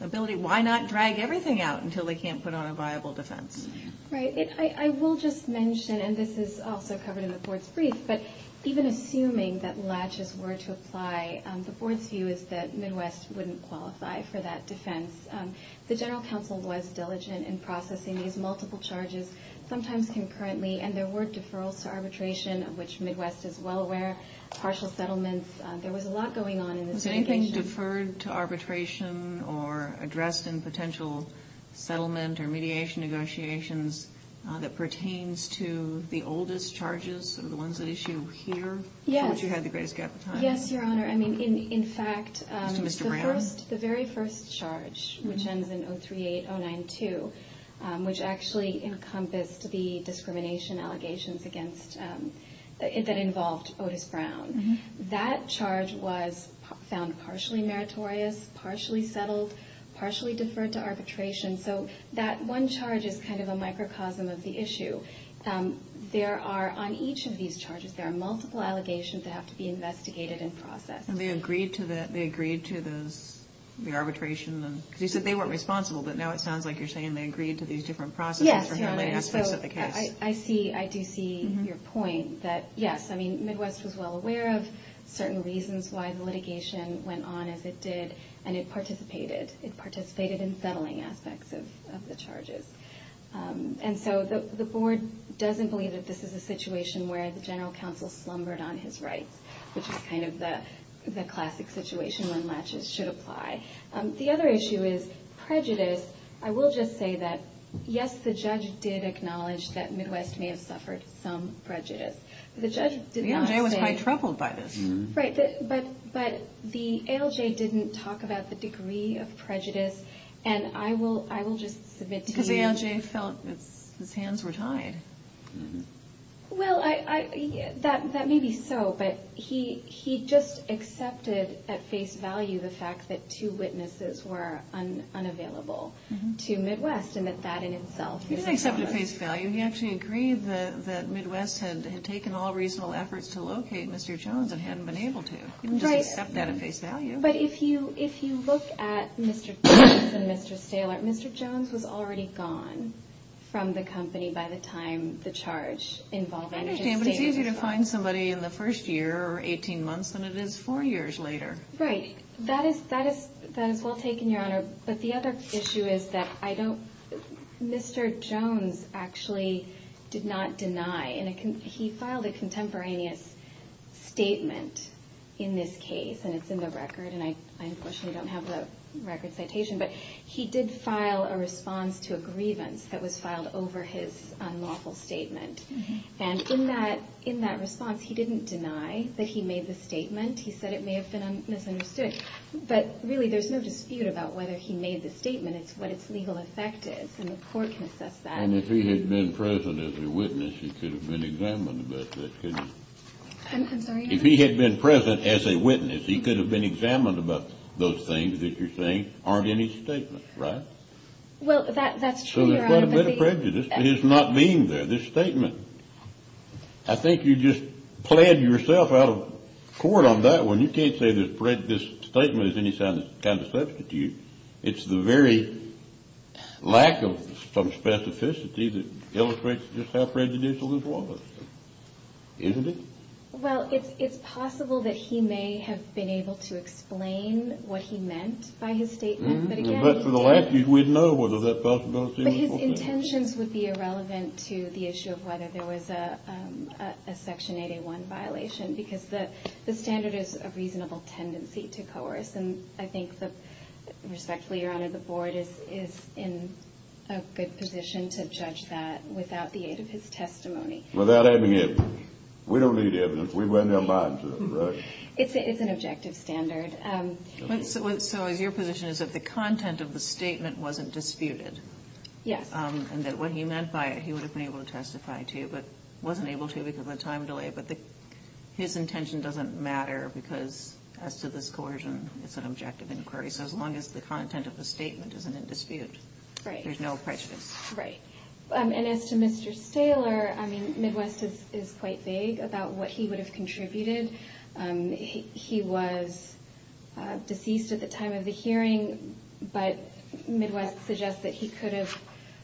ability. Why not drag everything out until they can't put on a viable defense? Right. I will just mention, and this is also covered in the fourth brief, but even assuming that latches were to apply, the board's view is that Midwest wouldn't qualify for that defense. The general counsel was diligent in processing these multiple charges, sometimes concurrently, and there were deferrals to arbitration, of which Midwest is well aware, partial settlements. There was a lot going on in this litigation. Has anything deferred to arbitration or addressed in potential settlement or mediation negotiations that pertains to the oldest charges, the ones at issue here? Yes. Which you have the greatest gap in time. Yes, Your Honor. I mean, in fact, the very first charge, which ends in 038092, which actually encompassed the discrimination allegations that involved Otis Brown, that charge was found partially meritorious, partially settled, partially deferred to arbitration. So that one charge is kind of a microcosm of the issue. There are, on each of these charges, there are multiple allegations that have to be investigated and processed. They agreed to the arbitration. You said they weren't responsible, but now it sounds like you're saying they agreed to these different processes. Yes. So I do see your point that, yes, I mean, Midwest was well aware of certain reasons why the litigation went on as it did, and it participated. It participated in settling aspects of the charges. And so the board doesn't believe that this is a situation where the general counsel slumbered on his rights, which is kind of the classic situation when latches should apply. The other issue is prejudice. I will just say that, yes, the judge did acknowledge that Midwest may have suffered some prejudice. The judge did not say. Yeah, they were quite troubled by this. Right. But the ALJ didn't talk about the degree of prejudice, and I will just submit to you. Because the ALJ felt that his hands were tied. Well, that may be so, but he just accepted at face value the fact that two witnesses were unavailable to Midwest, and that that in itself is a problem. He didn't accept at face value. He actually agreed that Midwest had taken all reasonable efforts to locate Mr. Jones and hadn't been able to. Right. He didn't accept that at face value. But if you look at Mr. Jones and Mr. Saylor, Mr. Jones was already gone from the company by the time the charge involved. I understand, but it's easier to find somebody in the first year or 18 months than it is four years later. Right. That is well taken, Your Honor. But the other issue is that Mr. Jones actually did not deny. He filed a contemporaneous statement in this case, and it's in the record, and I unfortunately don't have the record citation, but he did file a response to a grievance that was filed over his unlawful statement. And in that response, he didn't deny that he made the statement. He said it may have been misunderstood. But really, there's no dispute about whether he made the statement. It's what its legal effect is, and the court can assess that. And if he had been present as a witness, he could have been examined about that, couldn't he? I'm sorry? If he had been present as a witness, he could have been examined about those things that you're saying aren't in his statement, right? Well, that's true, Your Honor. So there's not a bit of prejudice in his not being there, this statement. I think you just pled yourself out of court on that one. You can't say that this statement is any kind of substitute. It's the very lack of some specificity that illustrates just how prejudicial this was. Isn't it? Well, it's possible that he may have been able to explain what he meant by his statement. For the last few, we'd know whether that possibility was false. But his intentions would be irrelevant to the issue of whether there was a Section 8A1 violation, because the standard is a reasonable tendency to coerce. And I think that, respectfully, Your Honor, the Board is in a good position to judge that without the aid of his testimony. Without any evidence. We don't need evidence. We run their minds, right? It's an objective standard. So your position is that the content of the statement wasn't disputed? Yes. And that what he meant by it, he would have been able to testify to, but wasn't able to because of a time delay. But his intention doesn't matter because as to this coercion, it's an objective inquiry. So as long as the content of the statement isn't in dispute, there's no prejudice. Right. And as to Mr. Stahler, I mean, Midwest is quite vague about what he would have contributed. He was deceased at the time of the hearing, but Midwest suggests that he could have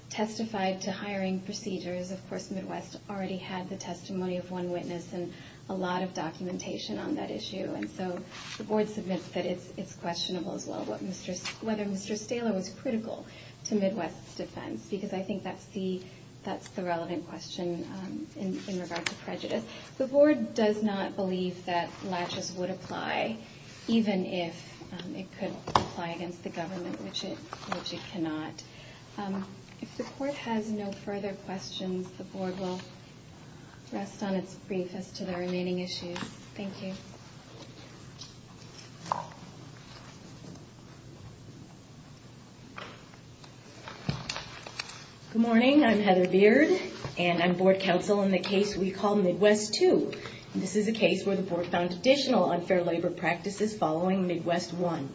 testified to hiring procedures. Of course, Midwest already had the testimony of one witness and a lot of documentation on that issue. And so the Board submits that it's questionable as well whether Mr. Stahler was critical to Midwest's defense, because I think that's the relevant question in regards to prejudice. The Board does not believe that lashes would apply, even if it could apply against the government, which it cannot. If the Board has no further questions, the Board will rest on its briefest to the remaining issues. Thank you. Good morning. I'm Heather Beard, and I'm Board Counsel on the case we call Midwest 2. This is a case where the Board found additional unfair labor practices following Midwest 1.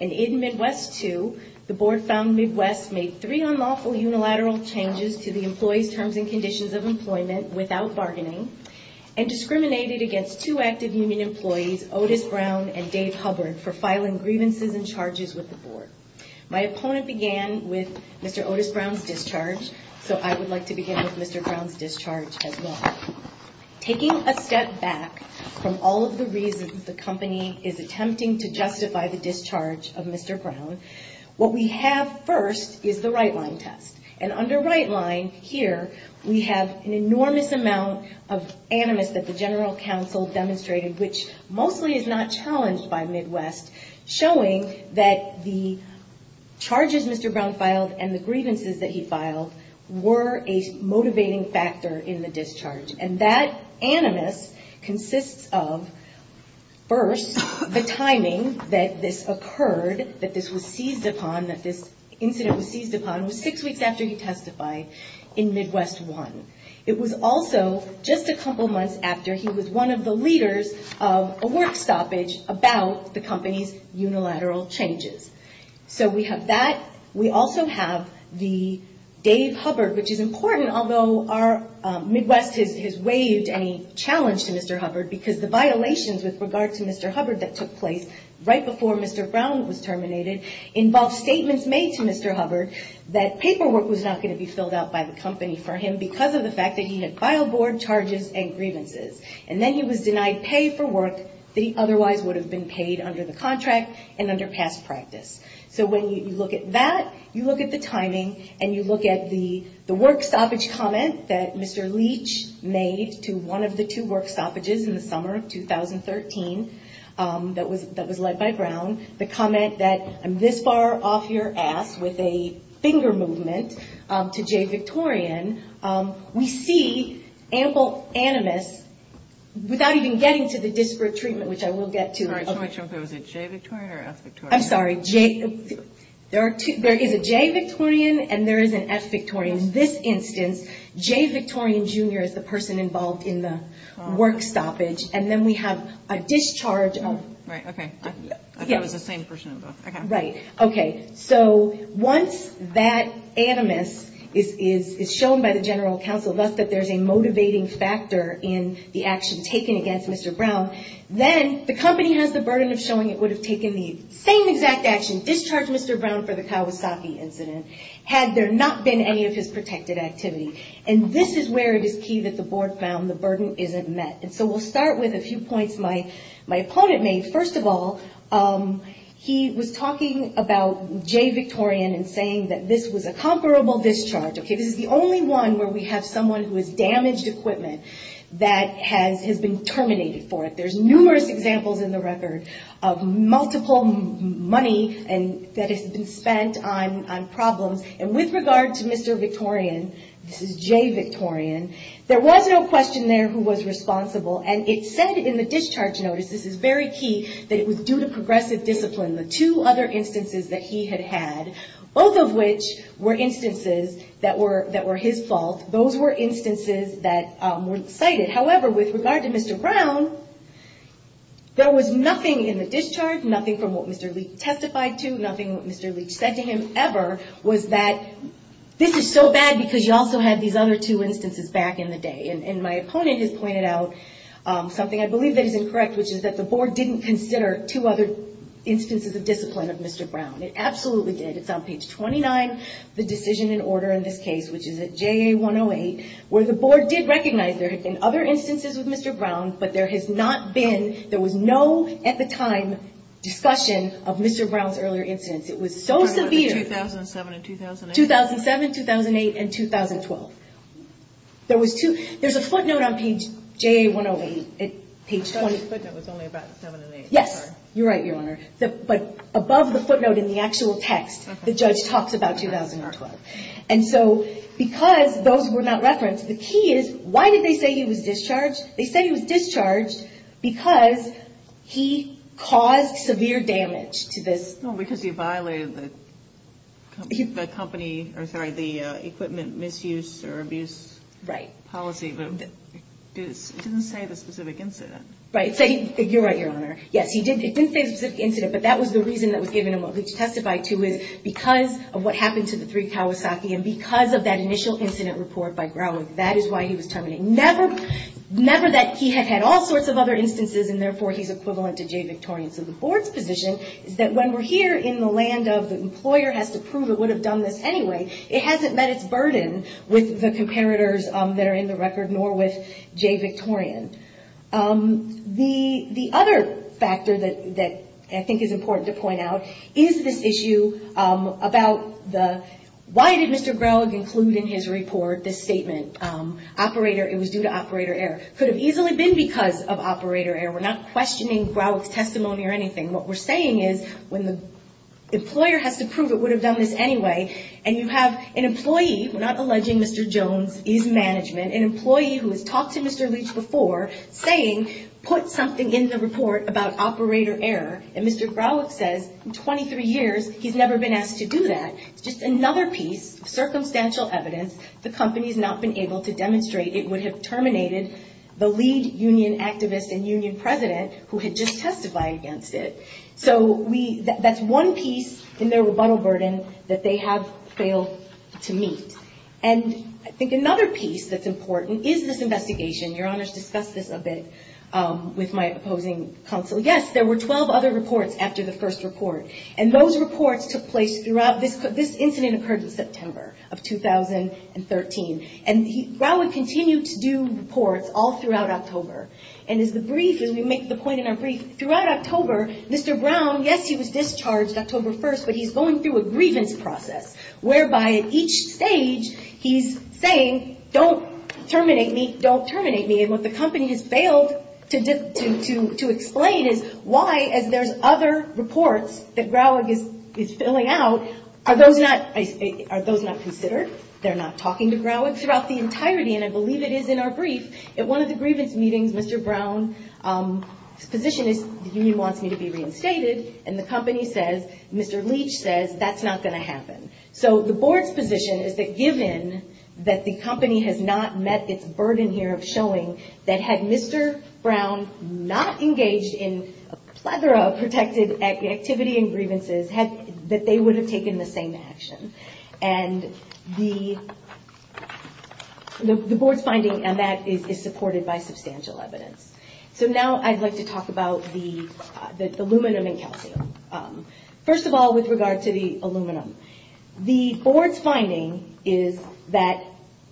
And in Midwest 2, the Board found Midwest made three unlawful unilateral changes to the employee's terms and conditions of employment without bargaining and discriminated against two active union employees, Otis Brown and Dave Hubbard, for filing grievances and charges with the Board. My opponent began with Mr. Otis Brown's discharge, so I would like to begin with Mr. Brown's discharge as well. Taking a step back from all of the reasons the company is attempting to justify the discharge of Mr. Brown, what we have first is the right-line test. And under right-line, here, we have an enormous amount of animus that the general counsel demonstrated, which mostly is not challenged by Midwest, showing that the charges Mr. Brown filed and the grievances that he filed were a motivating factor in the discharge. And that animus consists of, first, the timing that this occurred, that this was seized upon, that this incident was seized upon was six weeks after he testified in Midwest 1. It was also just a couple months after he was one of the leaders of a work stoppage about the company's unilateral changes. So we have that. We also have the Dave Hubbard, which is important, although Midwest has raised any challenge to Mr. Hubbard, because the violations with regard to Mr. Hubbard that took place right before Mr. Brown was terminated involved statements made to Mr. Hubbard that paperwork was not going to be filled out by the company for him because of the fact that he had filed board charges and grievances. And then he was denied pay for work that he otherwise would have been paid under the contract and under past practice. So when you look at that, you look at the timing, and you look at the work stoppage comments that Mr. Leach made to one of the two work stoppages in the summer of 2013 that was led by Brown, the comment that I'm this far off your ass with a finger movement to Jay Victorian, we see ample animus without even getting to the disparate treatment, which I will get to. I'm sorry. Was it Jay Victorian or S. Victorian? I'm sorry. There is a Jay Victorian and there is an S. Victorian. In this instance, Jay Victorian, Jr. is the person involved in the work stoppage. And then we have a discharge of... Right. Okay. I thought it was the same person involved. Okay. Right. Okay. So once that animus is shown by the general counsel, thus that there's a motivating factor in the action taken against Mr. Brown, then the company has the burden of showing it would have taken the same exact action, discharged Mr. Brown for the Kawasaki incident, had there not been any of his protected activities. And this is where it is key that the board found the burden isn't met. And so we'll start with a few points my opponent made. First of all, he was talking about Jay Victorian and saying that this was a comparable discharge. Okay. This is the only one where we have someone who has damaged equipment that has been terminated for it. There's numerous examples in the record of multiple money that has been spent on problems. And with regard to Mr. Victorian, this is Jay Victorian, there was no question there who was responsible. And it said in the discharge notice, this is very key, that it was due to progressive discipline, the two other instances that he had had, both of which were instances that were his fault. Those were instances that were cited. However, with regard to Mr. Brown, there was nothing in the discharge, nothing from what Mr. Leach testified to, nothing that Mr. Leach said to him ever, was that this is so bad because you also have these other two instances back in the day. And my opponent has pointed out something I believe that has been correct, which is that the board didn't consider two other instances of discipline of Mr. Brown. It absolutely did. It's on page 29, the decision in order in this case, which is at JA 108, where the board did recognize there had been other instances of Mr. Brown, but there has not been, there was no at the time discussion of Mr. Brown's earlier incidents. It was so severe. 2007 and 2008? 2007, 2008, and 2012. There was two, there's a footnote on page JA 108. I thought the footnote was only about 2007 and 2008. Yes. You're right, Your Honor. But above the footnote in the actual text, the judge talks about 2012. And so, because those were not referenced, the key is, why did they say he was discharged? They said he was discharged because he caused severe damage to this. No, because he violated the company, I'm sorry, the equipment misuse or abuse policy. Right. But he didn't say the specific incident. Right. So, you're right, Your Honor. Yes, he didn't say the specific incident, but that was the reason that was given and what we testified to is because of what happened to the three Palisades and because of that initial incident report by Brown, that is why he was terminated. Never that he had had all sorts of other instances and, therefore, he's equivalent to J. Victorians in the fourth division, that when we're here in the land of the employer has to prove it would have done this anyway, it hasn't met its burden with the comparators that are in the record, nor with J. Victorians. The other factor that I think is important to point out is this issue about the, why did Mr. Brown include in his report this statement? Operator, it was due to operator error. Could have easily been because of operator error. We're not questioning Browick's testimony or anything. What we're saying is when the employer has to prove it would have done this anyway and you have an employee, we're not alleging Mr. Jones, he's management, an employee who has talked to Mr. Leach before saying put something in the report about operator error and Mr. Browick says in 23 years he's never been asked to do that. Just another piece of circumstantial evidence the company has not been able to demonstrate that it would have terminated the lead union activist and union president who had just testified against it. So that's one piece in their rebuttal burden that they have failed to meet. And I think another piece that's important is this investigation. Your Honor's discussed this a bit with my opposing counsel. Yes, there were 12 other reports after the first report. And those reports took place throughout, this incident occurred in September of 2013. And Browick continued to do reports all throughout October. And as a brief, as we make the point in our brief, throughout October, Mr. Brown, yes, he was discharged October 1st, but he's going through a grievance process whereby at each stage he's saying don't terminate me, don't terminate me. And what the company has failed to explain is why as there's other reports that Browick is filling out, are those not considered? They're not talking to Browick throughout the entirety, and I believe it is in our brief. At one of the grievance meetings, Mr. Brown's position is the union wants me to be reinstated, and the company says, Mr. Leach says that's not going to happen. So the board's position is that given that the company has not met its burden here of showing that had Mr. Brown not engaged in a plethora of protected activity and grievances, that they would have taken the same action. And the board's finding on that is supported by substantial evidence. So now I'd like to talk about the aluminum and calcium. First of all, with regard to the aluminum, the board's finding is that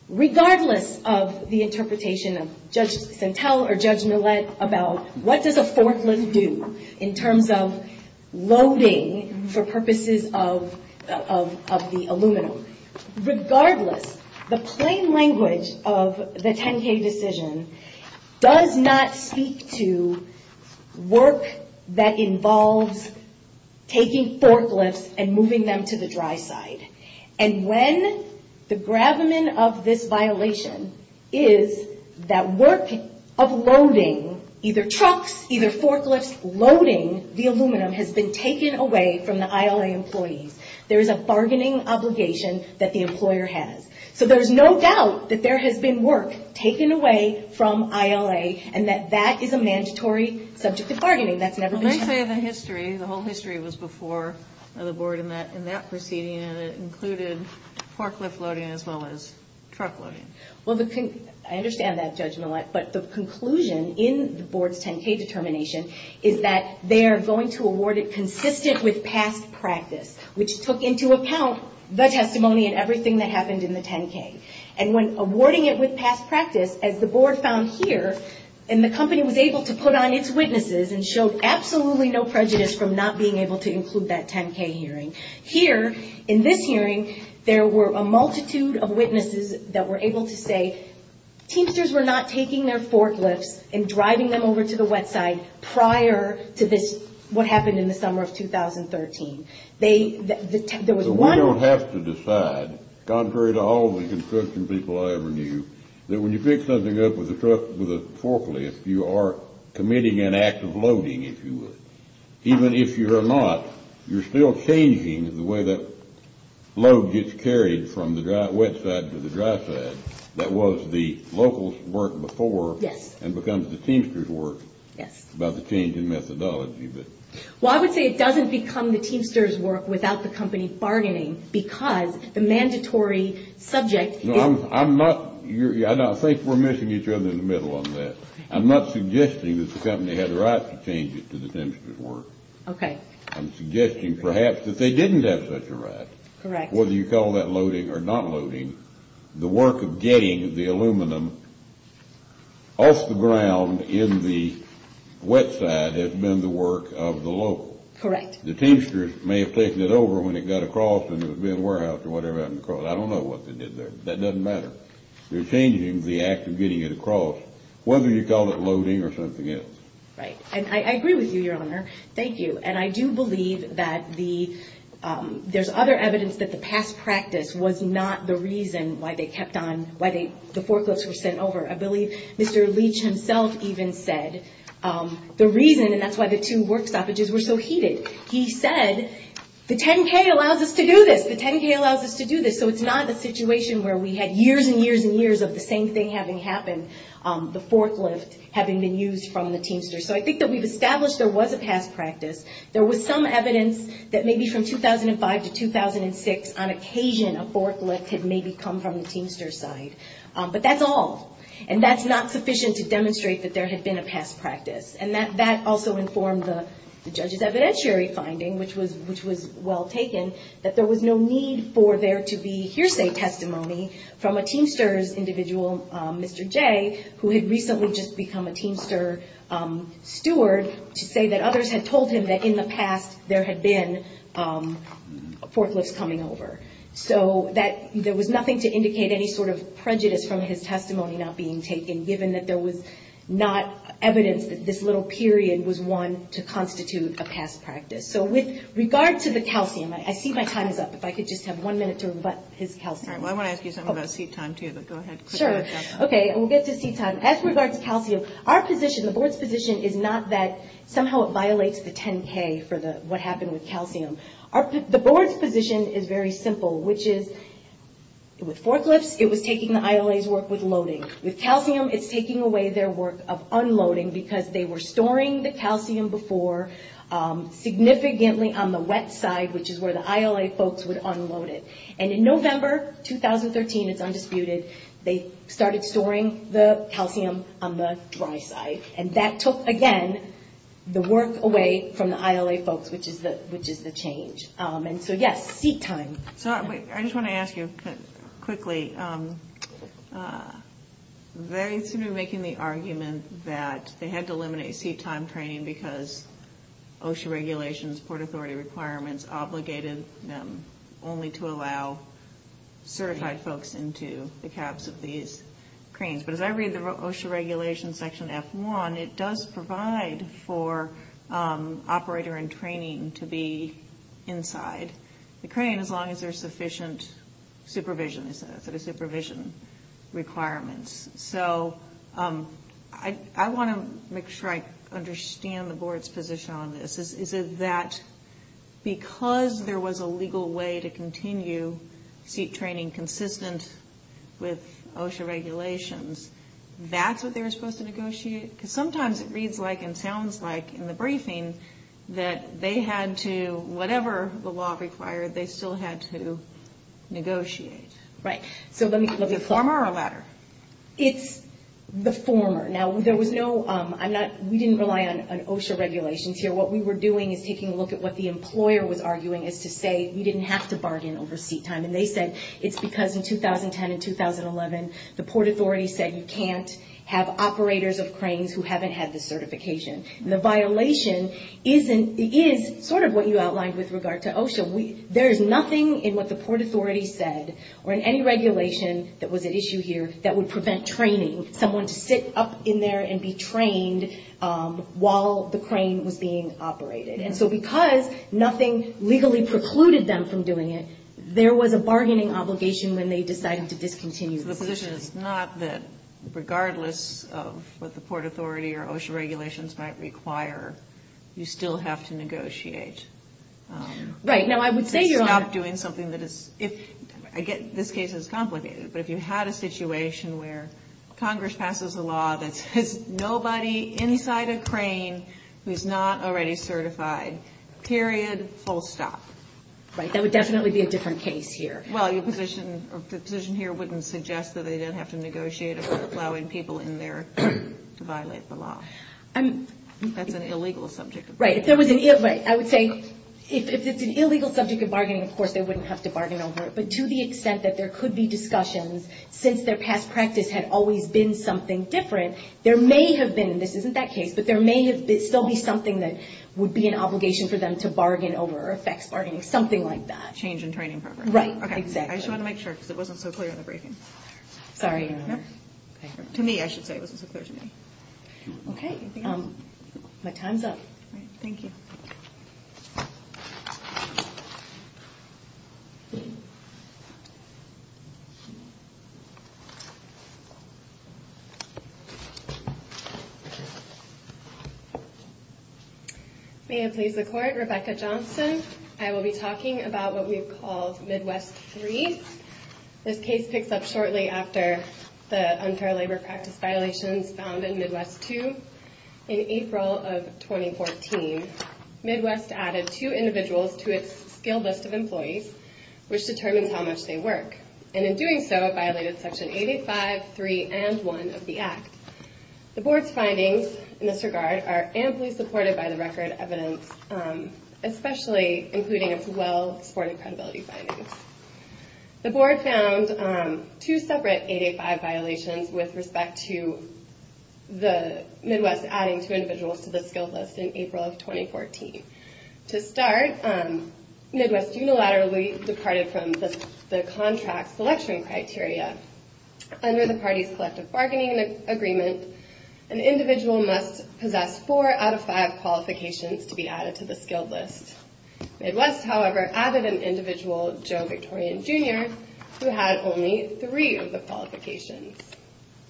regardless of the interpretation of Judge Santel or Judge Millett about what does a forklift do in terms of loading for purposes of the aluminum, regardless, the plain language of the 10-K decision does not speak to work that involves taking forklifts and moving them to the dry side. And when the graven of this violation is that work of loading either trucks, either forklifts, loading the aluminum has been taken away from the ILA employees, there is a bargaining obligation that the employer has. So there's no doubt that there has been work taken away from ILA and that that is a mandatory subject of bargaining. They say the history, the whole history was before the board in that proceeding and it included forklift loading as well as truck loading. Well, I understand that, Judge Millett, but the conclusion in the board's 10-K determination is that they are going to award it consistent with past practice, which took into account the testimony and everything that happened in the 10-K. And when awarding it with past practice, as the board found here, and the company was able to put on its witnesses and showed absolutely no prejudice from not being able to include that 10-K hearing. Here, in this hearing, there were a multitude of witnesses that were able to say Teamsters were not taking their forklifts and driving them over to the wet side prior to this, what happened in the summer of 2013. We don't have to decide, contrary to all the construction people I ever knew, that when you pick something up with a forklift, you are committing an act of loading, if you would. Even if you're not, you're still changing the way that load gets carried from the wet side to the dry side. That was the locals' work before and becomes the Teamsters' work by the change in methodology. Well, I would say it doesn't become the Teamsters' work without the company bargaining because the mandatory subject is- No, I'm not- I think we're missing each other in the middle on that. I'm not suggesting that the company had a right to change it to the Teamsters' work. Okay. I'm suggesting, perhaps, that they didn't have such a right. Correct. Whether you call that loading or not loading. The work of getting the aluminum off the ground in the wet side has been the work of the locals. Correct. The Teamsters may have taken it over when it got across in the warehouse or whatever. I don't know what they did there. That doesn't matter. They're changing the act of getting it across. Whether you call it loading or something else. Right. I agree with you, Your Honor. Thank you. And I do believe that there's other evidence that the past practice was not the reason why the forklifts were sent over. I believe Mr. Leach himself even said the reason, and that's why the two work stoppages were so heated. He said, the 10K allows us to do this. The 10K allows us to do this. So, it's not a situation where we had years and years and years of the same thing having happened. The forklift having been used from the Teamsters. So, I think that we've established there was a past practice. There was some evidence that maybe from 2005 to 2006, on occasion, a forklift had maybe come from the Teamsters' side. But that's all. And that's not sufficient to demonstrate that there had been a past practice. And that also informed the judge's evidentiary finding, which was well taken, that there was no need for there to be hearsay testimony from a Teamsters individual, Mr. J., who had recently just become a Teamsters steward, to say that others had told him that in the past there had been forklifts coming over. So, there was nothing to indicate any sort of prejudice from his testimony not being taken, given that there was not evidence that this little period was one to constitute a past practice. So, with regard to the calcium, I see my time is up. If I could just have one minute to rebut his calcium. I want to ask you something about seat time, too, but go ahead. Sure. Okay, we'll get to seat time. As regards to calcium, our position, the board's position, is not that somehow it violates the 10K for what happened with calcium. The board's position is very simple, which is, with forklifts, it was taking the ILA's work with loading. With calcium, it's taking away their work of unloading, because they were storing the calcium before, significantly on the wet side, which is where the ILA folks would unload it. And in November 2013, it's undisputed, they started storing the calcium on the dry side. And that took, again, the work away from the ILA folks, which is the change. And so, yes, seat time. I just want to ask you, quickly, very simply making the argument that they had to eliminate seat time training because OSHA regulations, Port Authority requirements, obligated them only to allow certified folks into the caps of these cranes. But as I read the OSHA regulation section F1, it does provide for operator and training to be inside the crane, as long as there's sufficient supervision for the supervision requirements. So I want to make sure I understand the board's position on this. Because there was a legal way to continue seat training consistent with OSHA regulations, that's what they were supposed to negotiate? Because sometimes it reads like and sounds like in the briefing that they had to, whatever the law required, they still had to negotiate. Right. So is it the former or the latter? It's the former. Now, there was no, we didn't rely on OSHA regulations here. What we were doing is taking a look at what the employer was arguing is to say we didn't have to bargain over seat time. And they said it's because in 2010 and 2011, the Port Authority said you can't have operators of cranes who haven't had the certification. And the violation is sort of what you outlined with regard to OSHA. There is nothing in what the Port Authority said or in any regulation that was at issue here that would prevent training, someone to sit up in there and be trained while the crane was being operated. And so because nothing legally precluded them from doing it, there was a bargaining obligation when they decided to discontinue. The position is not that regardless of what the Port Authority or OSHA regulations might require, you still have to negotiate. Right. Stop doing something that is, I get this case is complicated. But if you had a situation where Congress passes a law that says nobody inside a crane who is not already certified, period, full stop. Right. That would definitely be a different case here. Well, the position here wouldn't suggest that they didn't have to negotiate about allowing people in there to violate the law. That's an illegal subject. Right. I would say if it's an illegal subject of bargaining, of course, they wouldn't have to bargain over it. But to the extent that there could be discussions, since their past practice had always been something different, there may have been, and this isn't that case, but there may still be something that would be an obligation for them to bargain over or affect bargaining, something like that. Change in training program. Right, exactly. Okay. I just wanted to make sure because it wasn't so clear in the briefing. Sorry. To me, I should say it wasn't so clear to me. Okay. My time's up. All right. Thank you. May it please the Court, Rebecca Johnson. I will be talking about what we have called Midwest III. This case picks up shortly after the unfair labor practice violations found in Midwest II. In April of 2014, Midwest added two individuals to its skill list of employees, which determines how much they work, and in doing so violated Section 85, 3, and 1 of the Act. The Board's findings in this regard are amply supported by the record evidence, especially including as well foreign credibility findings. The Board found two separate 885 violations with respect to the Midwest adding two individuals to the skill list in April of 2014. To start, Midwest unilaterally departed from the contract selection criteria. Under the party's collective bargaining agreement, an individual must possess four out of five qualifications to be added to the skill list. Midwest, however, added an individual, Joe Victorian, Jr., who had only three of the qualifications.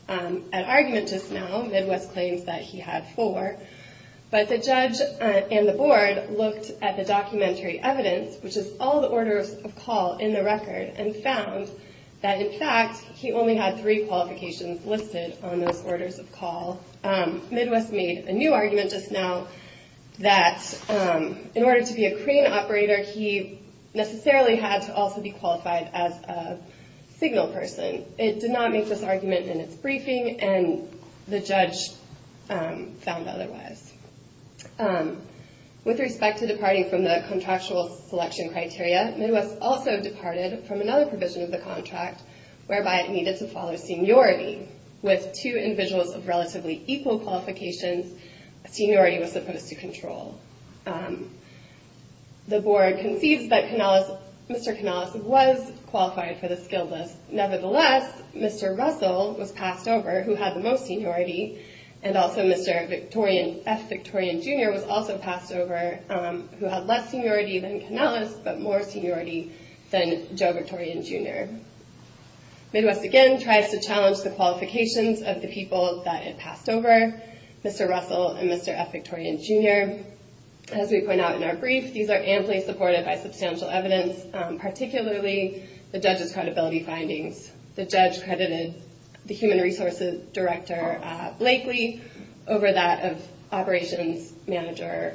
At argument just now, Midwest claims that he had four, but the judge and the Board looked at the documentary evidence, which is all the orders of call in the record, and found that, in fact, he only had three qualifications listed on those orders of call. Midwest made a new argument just now that in order to be a crane operator, he necessarily had to also be qualified as a signal person. It did not make this argument in its briefing, and the judge found otherwise. With respect to departing from the contractual selection criteria, Midwest also departed from another provision of the contract whereby it needed to follow seniority. With two individuals of relatively equal qualifications, seniority was supposed to control. The Board concedes that Mr. Canales was qualified for the skill list. Nevertheless, Mr. Russell was passed over, who had the most seniority, and also Mr. F. Victorian, Jr. was also passed over, who had less seniority than Canales but more seniority than Joe Victorian, Jr. Midwest again tries to challenge the qualifications of the people that it passed over, Mr. Russell and Mr. F. Victorian, Jr. As we point out in our brief, these are amply supported by substantial evidence, particularly the judge's credibility findings. The judge credited the human resources director, Blakely, over that of operations manager,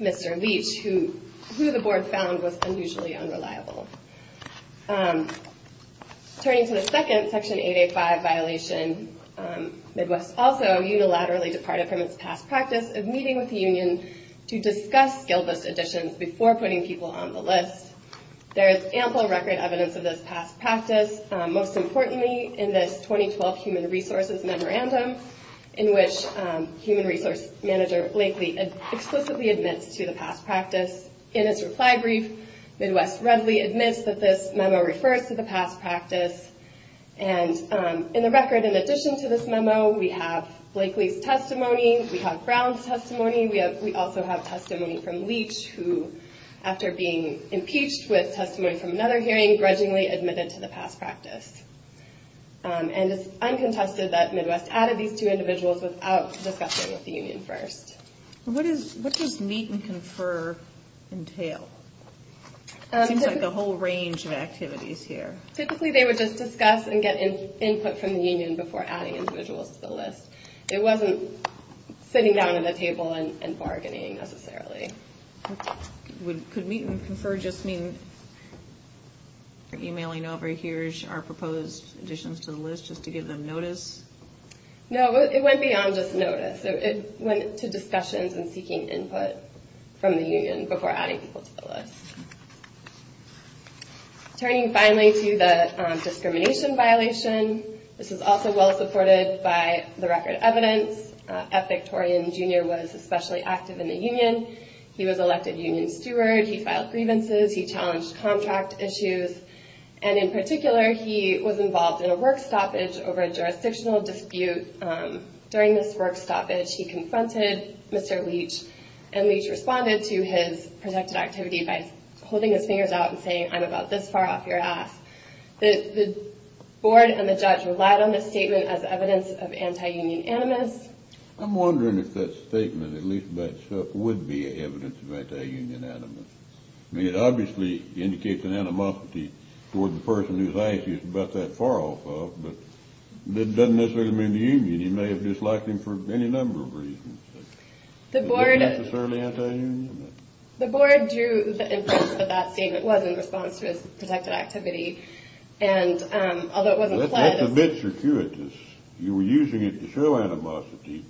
Mr. Leach, who the Board found was unusually unreliable. Turning to the second Section 885 violation, Midwest also unilaterally departed from its past practice of meeting with the union to discuss skill list additions before putting people on the list. There is ample record evidence of this past practice, most importantly in the 2012 Human Resources Memorandum, in which human resources manager, Blakely, explicitly admits to the past practice. In its reply brief, Midwest readily admits that this memo refers to the past practice. And in the record, in addition to this memo, we have Blakely's testimony, we have Brown's testimony, we also have testimony from Leach, who, after being impeached with testimony from another hearing, grudgingly admitted to the past practice. And it's uncontested that Midwest added these two individuals without discussing with the union first. What does meet and confer entail? It seems like a whole range of activities here. Typically, they would just discuss and get input from the union before adding individuals to the list. It wasn't sitting down at a table and bargaining, necessarily. Could meet and confer just mean emailing over here our proposed additions to the list just to give them notice? No, it went beyond just notice. It went to discussions and seeking input from the union before adding people to the list. Turning finally to the discrimination violation, which is also well supported by the record evidence, F. Victorian Jr. was especially active in the union. He was elected union steward. He filed grievances. He challenged contract issues. And in particular, he was involved in a work stoppage over a jurisdictional dispute. During this work stoppage, he confronted Mr. Leach, and Leach responded to his protected activity by holding his fingers out and saying, I'm about this far off your ass. The board and the judge relied on this statement as evidence of anti-union animus. I'm wondering if that statement, at least by itself, would be evidence of anti-union animus. I mean, it obviously indicates an animosity for the person whose IQ is about that far off, but it doesn't necessarily mean the union. You may have disliked him for any number of reasons. The board drew the inference that that statement was in response to his protected activity, although it wasn't flagged. That's a bit circuitous. You were using it to show animosity,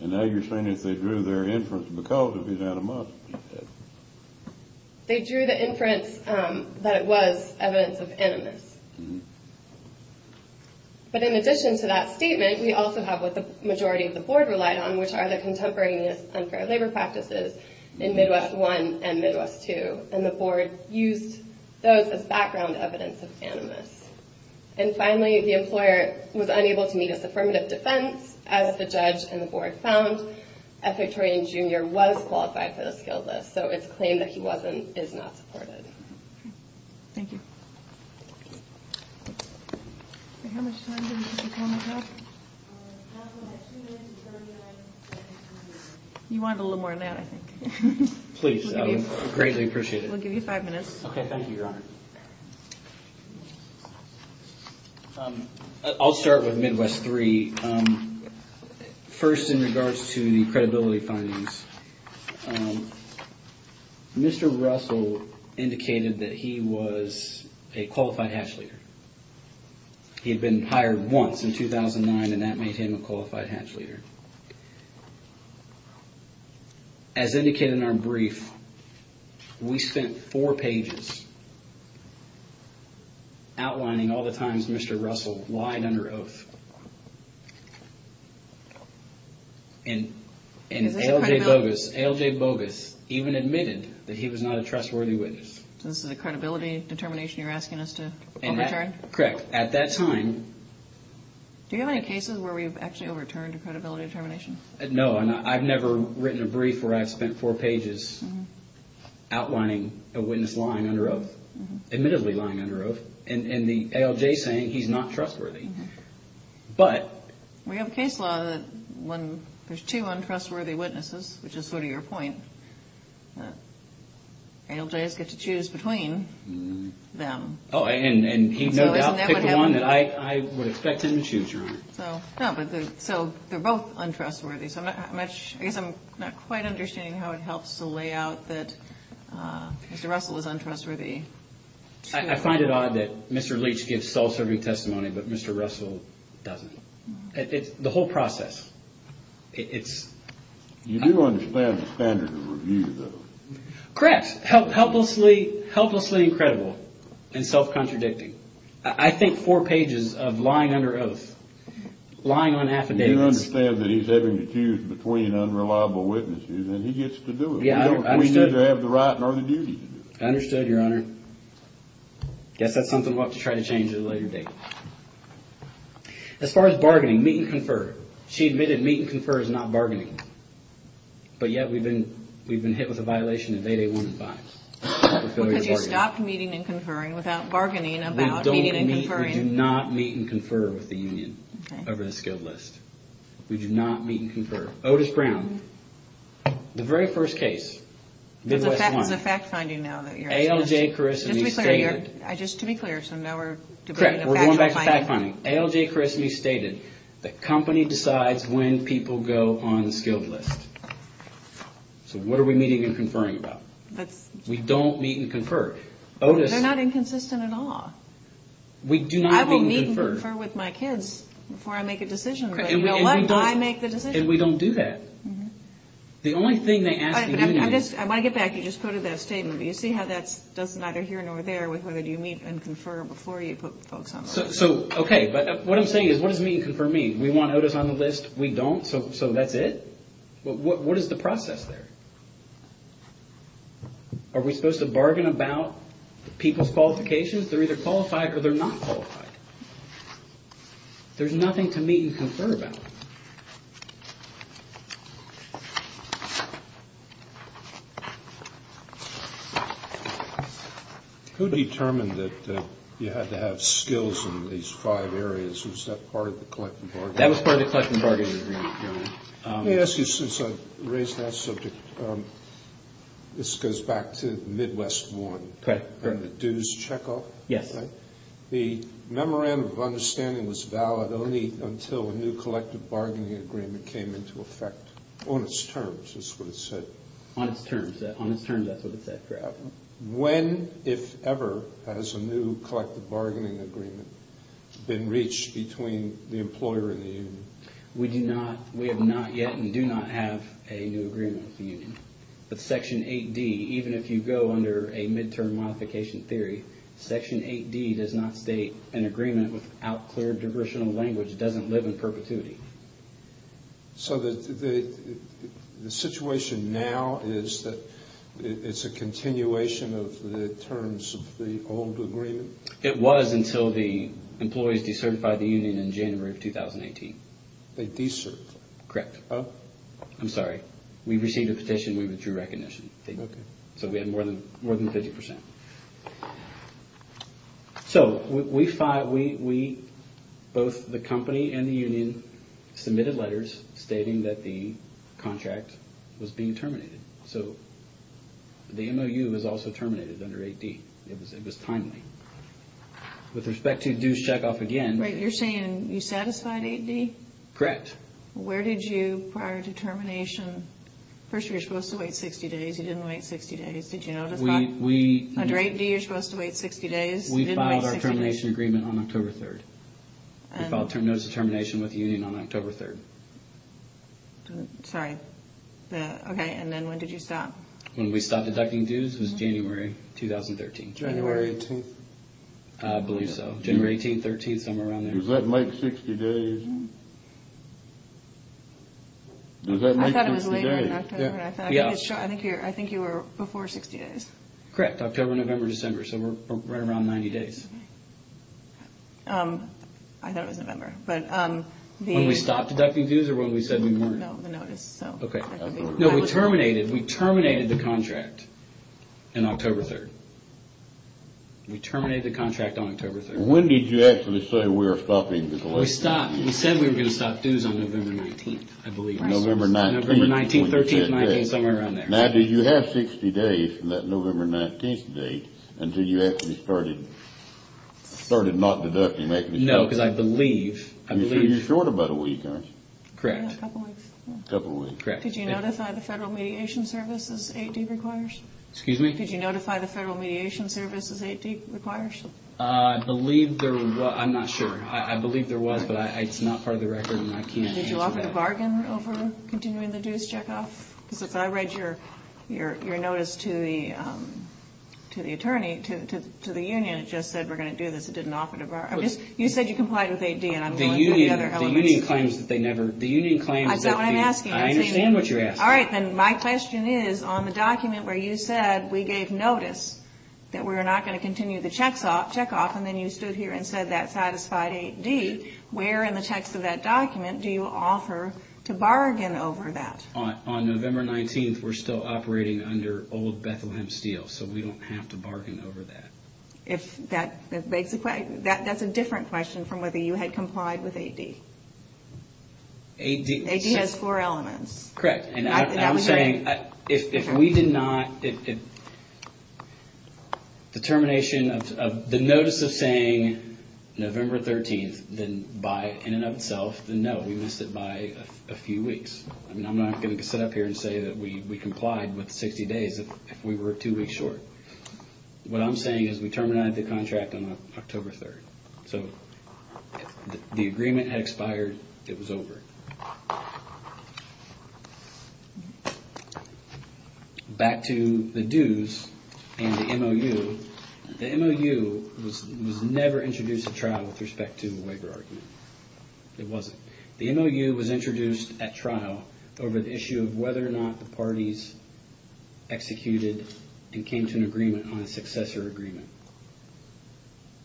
and now you're saying that they drew their inference because of his animosity. They drew the inference that it was evidence of animus. But in addition to that statement, we also have what the majority of the board relied on, which are the contemporaneous unfair labor practices in Midwest I and Midwest II, and the board used those as background evidence of animus. And finally, the employer was unable to meet his affirmative defense, as the judge and the board found that Victorian Jr. was qualified for the skill test, so it's a claim that he is not supported. Thank you. How much time do we have? You wanted a little more than that, I think. Please, I would greatly appreciate it. We'll give you five minutes. Okay, thank you, Your Honor. I'll start with Midwest III. First, in regards to the credibility findings, Mr. Russell indicated that he was a qualified hatch leader. He had been hired once in 2009, and that made him a qualified hatch leader. As indicated in our brief, we spent four pages outlining all the times Mr. Russell lied under oath. And A.L.J. Bogus even admitted that he was not a trustworthy witness. So this is a credibility determination you're asking us to carry? Correct. At that time... Do you have any cases where we've actually overturned a credibility determination? No, I've never written a brief where I've spent four pages outlining a witness lying under oath, admittedly lying under oath, and the A.L.J. saying he's not trustworthy. But... We have a case law that when there's two untrustworthy witnesses, which is sort of your point, A.L.J. gets to choose between them. Oh, and he no doubt picked the one that I would expect him to choose, right? No, but they're both untrustworthy. I guess I'm not quite understanding how it helps to lay out that Mr. Russell is untrustworthy. I find it odd that Mr. Leach gives false every testimony, but Mr. Russell doesn't. The whole process, it's... You do understand the standard of review, though. Correct. Helplessly incredible and self-contradicting. I think four pages of lying under oath, lying on affidavit. You do understand that he's having to choose between unreliable witnesses, and he gets to do it. Yeah, I understand. He doesn't have the right nor the duty to do it. I understood, Your Honor. I guess that's something we'll have to try to change at a later date. As far as bargaining, meet and confer. She admitted meet and confer is not bargaining. But, yet, we've been hit with a violation of Day 1 advice. We could have stopped meeting and conferring without bargaining about meeting and conferring. We do not meet and confer with the union over the skilled list. We do not meet and confer. Otis Brown, the very first case, Midwest One. The fact finding now that you're... Just to be clear, so now we're... Correct, we're going back to fact finding. ALJ correctly stated that company decides when people go on the skilled list. So, what are we meeting and conferring about? We don't meet and confer. They're not inconsistent at all. We do not meet and confer. I will meet and confer with my kids before I make a decision. We don't know why I make the decision. And we don't do that. The only thing they ask the union... I want to get back. You just quoted that statement. Do you see how that doesn't matter here nor there with whether you meet and confer before you put the folks on the list? So, okay, but what I'm saying is what does meet and confer mean? We want Otis on the list. We don't, so that's it? What is the process there? Are we supposed to bargain about people's qualifications? They're either qualified or they're not qualified. There's nothing to meet and confer about. Who determined that you had to have skills in these five areas? Was that part of the collective bargaining agreement? That was part of the collective bargaining agreement. Let me ask you since I've raised that subject. This goes back to the Midwest War and the dues checkoff. The memorandum of understanding was valid only until a new collective bargaining agreement was signed. When, if ever, has a new collective bargaining agreement been reached between the employer and the union? We do not, we have not yet and do not have a new agreement with the union. But Section 8D, even if you go under a midterm modification theory, Section 8D does not state an agreement without clear jurisdictional language doesn't live in perpetuity. So the situation now is that it's a continuation of the terms of the old agreement? It was until the employees decertified the union in January of 2018. They decertified? Correct. I'm sorry. We received a petition. We were through recognition. Okay. So we had more than 50%. So we filed, we, both the company and the union submitted letters stating that the contract was being terminated. So the MOU was also terminated under 8D. It was timely. With respect to dues checkoff again. Wait, you're saying you satisfied 8D? Correct. Where did you, prior to termination, first you were supposed to wait 60 days, you didn't wait 60 days. Did you know the problem? We, we. Under 8D you're supposed to wait 60 days. We filed our termination agreement on October 3rd. We filed termination with the union on October 3rd. Sorry. Okay, and then when did you stop? When we stopped deducting dues was January 2013. January 18th? I believe so. January 18th, 13th, somewhere around there. Does that make 60 days? Does that make 60 days? I thought it was later in October. Yeah. I think you were before 60 days. Correct. October, November, December. So we're right around 90 days. I thought it was November, but the. When we stopped deducting dues or when we said we weren't? No, the notice. Okay. No, we terminated, we terminated the contract on October 3rd. We terminated the contract on October 3rd. When did you actually say we were stopping the collection? We stopped. We said we were going to stop dues on November 19th, I believe. November 19th. November 19th, 13th, and I think somewhere around there. Now, did you have 60 days from that November 19th date until you actually started, started not deducting? No, because I believe. I believe. So you're short about a week, aren't you? Correct. A couple weeks. A couple weeks. Correct. Did you notify the Federal Mediation Service as 8D requires? Excuse me? Did you notify the Federal Mediation Service as 8D requires? I believe there was. I'm not sure. I believe there was, but it's not part of the record and I can't answer that. Did you offer to bargain over continuing the dues checkoff? Because I read your, your, your notice to the, to the attorney, to, to, to the union. It just said we're going to do this. It didn't offer to bargain. I'm just. You said you complied with 8D and I'm going to do the other elements. The union, the union claims that they never. The union claims that they. I said I'm asking. I understand what you're asking. All right. Then my question is, on the document where you said we gave notice that we're not going to continue the checkoff, and then you stood here and said that satisfied 8D, where in the text of that document do you offer to bargain over that? On, on November 19th, we're still operating under old Bethlehem Steel, so we don't have to bargain over that. If that, that's basically, that, that's a different question from whether you had complied with 8D. 8D. 8D has four elements. Correct. And I'm saying if, if we did not, if the termination of the notice of saying November 13th, then by in and of itself, then no, we missed it by a few weeks. I mean, I'm not going to sit up here and say that we, we complied with 60 days if we were two weeks short. What I'm saying is we terminated the contract on October 3rd. So, the agreement had expired. It was over. Back to the dues and the MOU. The MOU was never introduced at trial with respect to a waiver argument. It wasn't. The MOU was introduced at trial over the issue of whether or not the parties executed and came to an agreement on a successor agreement.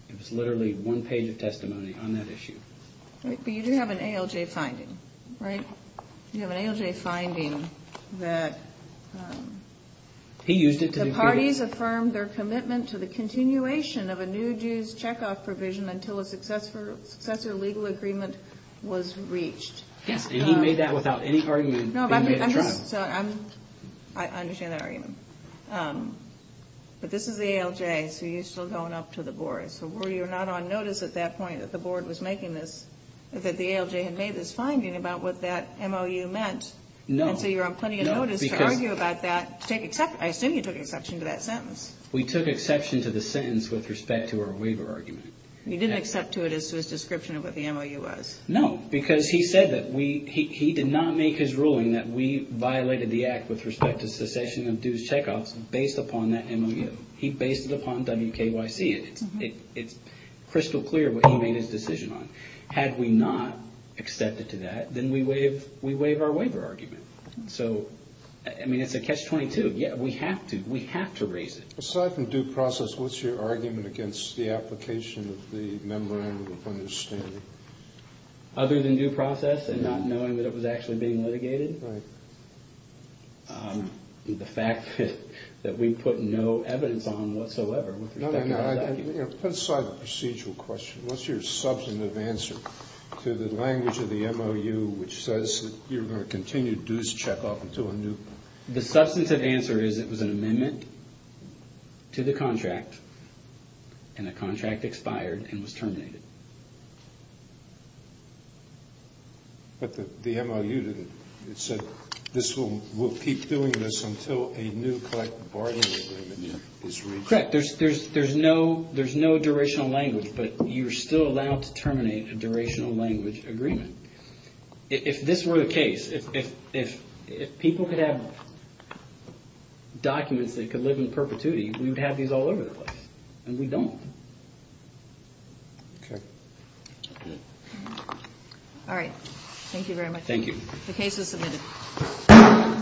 It was literally one page of testimony on that issue. But you do have an ALJ finding, right? You have an ALJ finding that the parties affirmed their commitment to the continuation of a new dues checkoff provision until a successor legal agreement was reached. Yes, and he made that without any argument. No, but I'm, I'm, I'm, I understand that argument. But this is the ALJ, so you've still gone up to the board. I'm sorry, were you not on notice at that point that the board was making this, that the ALJ had made this finding about what that MOU meant? No. So, you're on plenty of notice to argue about that, to take exception, I assume you took exception to that sentence. We took exception to the sentence with respect to our waiver argument. You didn't accept to it as to its description of what the MOU was. No, because he said that we, he, he did not make his ruling that we violated the act with respect to succession of dues checkoffs based upon that MOU. He based it upon WKYC, it's crystal clear what he made his decision on. Had we not accepted to that, then we waive, we waive our waiver argument. So, I mean, it's a catch-22. Yeah, we have to, we have to raise it. Aside from due process, what's your argument against the application of the memorandum of understanding? Other than due process and not knowing that it was actually being litigated? Right. The fact that we put no evidence on whatsoever. No, no, no. Put aside the procedural question. What's your substantive answer to the language of the MOU which says that you're going to continue dues checkoff until a new? The substantive answer is it was an amendment to the contract, and the contract expired and was terminated. But the MOU, it said, this will, we'll keep doing this until a new collective bargaining agreement is reached. Correct. There's, there's, there's no, there's no durational language, but you're still allowed to terminate a durational language agreement. If, if this were the case, if, if, if people could have documents that could live in perpetuity, we would have these all over the place. And we don't. Okay. All right. Thank you very much. Thank you. The case is submitted.